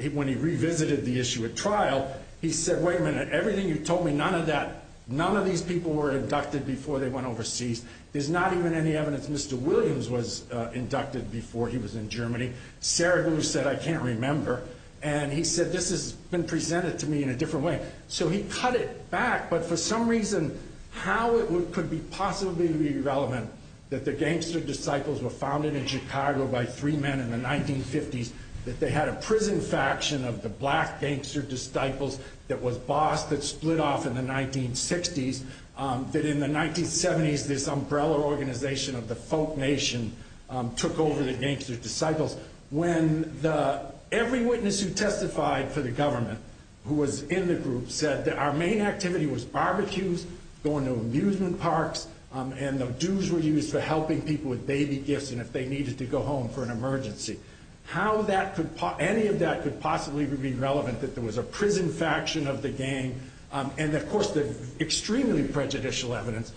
to, when he revisited the issue at trial, he said, wait a minute, everything you told me, none of that, none of these people were inducted before they went overseas. There's not even any evidence Mr. Williams was inducted before he was in Germany. Scaragoose said, I can't remember. And he said, this has been presented to me in a different way. So, he cut it back. But for some reason, how it could possibly be relevant that the gangster disciples were founded in Chicago by three men in the 1950s, that they had a prison faction of the black gangster disciples that was bossed and split off in the 1960s, that in the 1970s this umbrella organization of the folk nation took over the gangster disciples. When every witness who testified for the government who was in the group said that our main activity was barbecues, going to amusement parks, and the dues were used for helping people with baby gifts and if they needed to go home for an emergency. How that could, any of that could possibly be relevant that there was a prison faction of the gang. And, of course, the extremely prejudicial evidence.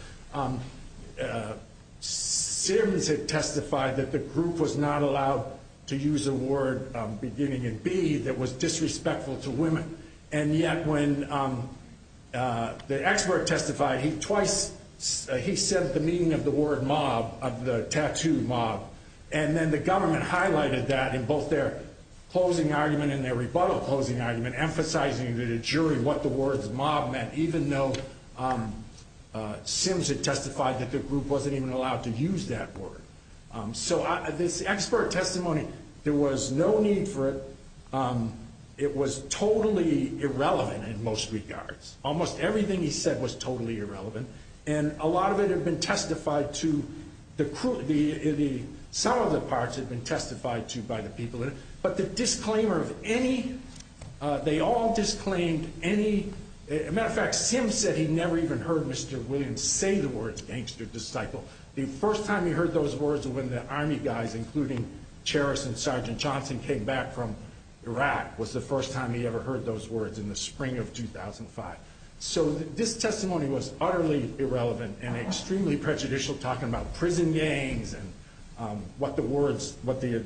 Scaragoose had testified that the group was not allowed to use the word beginning in B that was disrespectful to women. And yet when the expert testified, he twice, he said the meaning of the word mob, of the tattooed mob. And then the government highlighted that in both their closing argument and their rebuttal closing argument, emphasizing to the jury what the word mob meant, even though Sims had testified that the group wasn't even allowed to use that word. So this expert testimony, there was no need for it. It was totally irrelevant in most regards. Almost everything he said was totally irrelevant. And a lot of it has been testified to, some of the parts have been testified to by the people. But the disclaimer of any, they all disclaimed any, as a matter of fact, Sims said he never even heard Mr. Williams say the words gangster disciple. The first time he heard those words was when the Army guys, including Sheriff and Sergeant Johnson, came back from Iraq was the first time he ever heard those words in the spring of 2005. So this testimony was utterly irrelevant and extremely prejudicial, talking about prison games and what the words, what the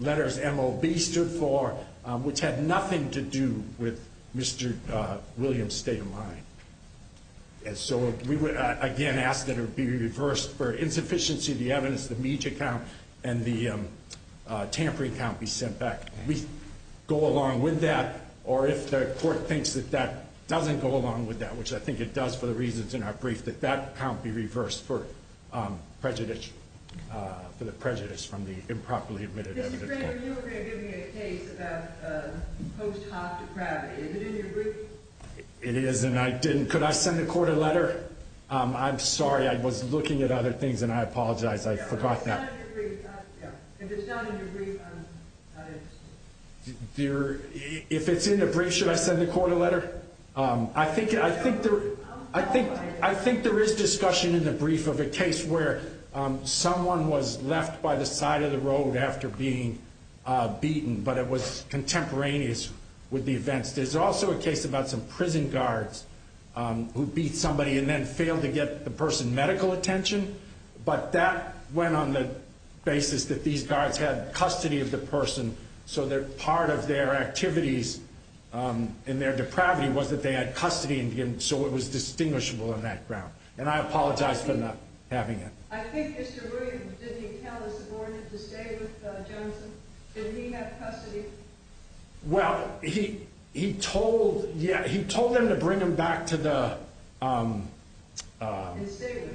letters mob stood for, which had nothing to do with Mr. Williams' state of mind. And so we would, again, ask that it be reversed for insufficiency of the evidence, the Meech account and the Tampere account be sent back. We go along with that, or if the court thinks that that doesn't go along with that, which I think it does for the reasons in our brief, that that account be reversed for prejudice, for the prejudice from the improperly admitted evidence. You were giving me a case about post-hospitality. Is it in your brief? It is, and I didn't, could I send the court a letter? I'm sorry, I was looking at other things and I apologize, I forgot that. If it's not in your brief, I'm sorry. If it's in the brief, should I send the court a letter? I think there is discussion in the brief of a case where someone was left by the side of the road after being beaten, but it was contemporaneous with the events. There's also a case about some prison guards who beat somebody and then failed to get the person medical attention, but that went on the basis that these guards had custody of the person, so that part of their activities and their depravity was that they had custody, and so it was distinguishable on that ground. And I apologize for not having it. I think Mr. Williams, didn't he have custody? Didn't he have custody? Well, he told them to bring him back to the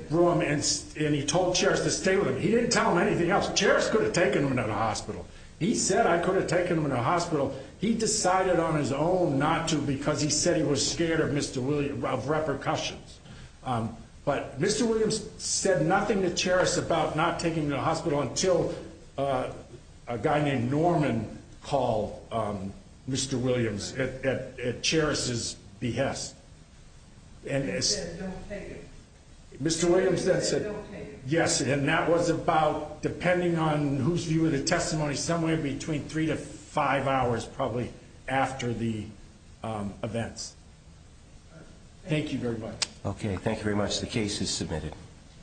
room and he told Cheris to stay with him. He didn't tell them anything else. Cheris could have taken him to the hospital. He said, I could have taken him to the hospital. He decided on his own not to because he said he was scared of repercussions, but Mr. Williams said nothing to Cheris about not taking him to the hospital until a guy named Norman called Mr. Williams at Cheris' behest. He said, don't take him. Mr. Williams then said, don't take him. Yes, and that was about, depending on whose view of the testimony, somewhere between three to five hours probably after the events. Thank you very much. Okay. Thank you very much. The case is submitted.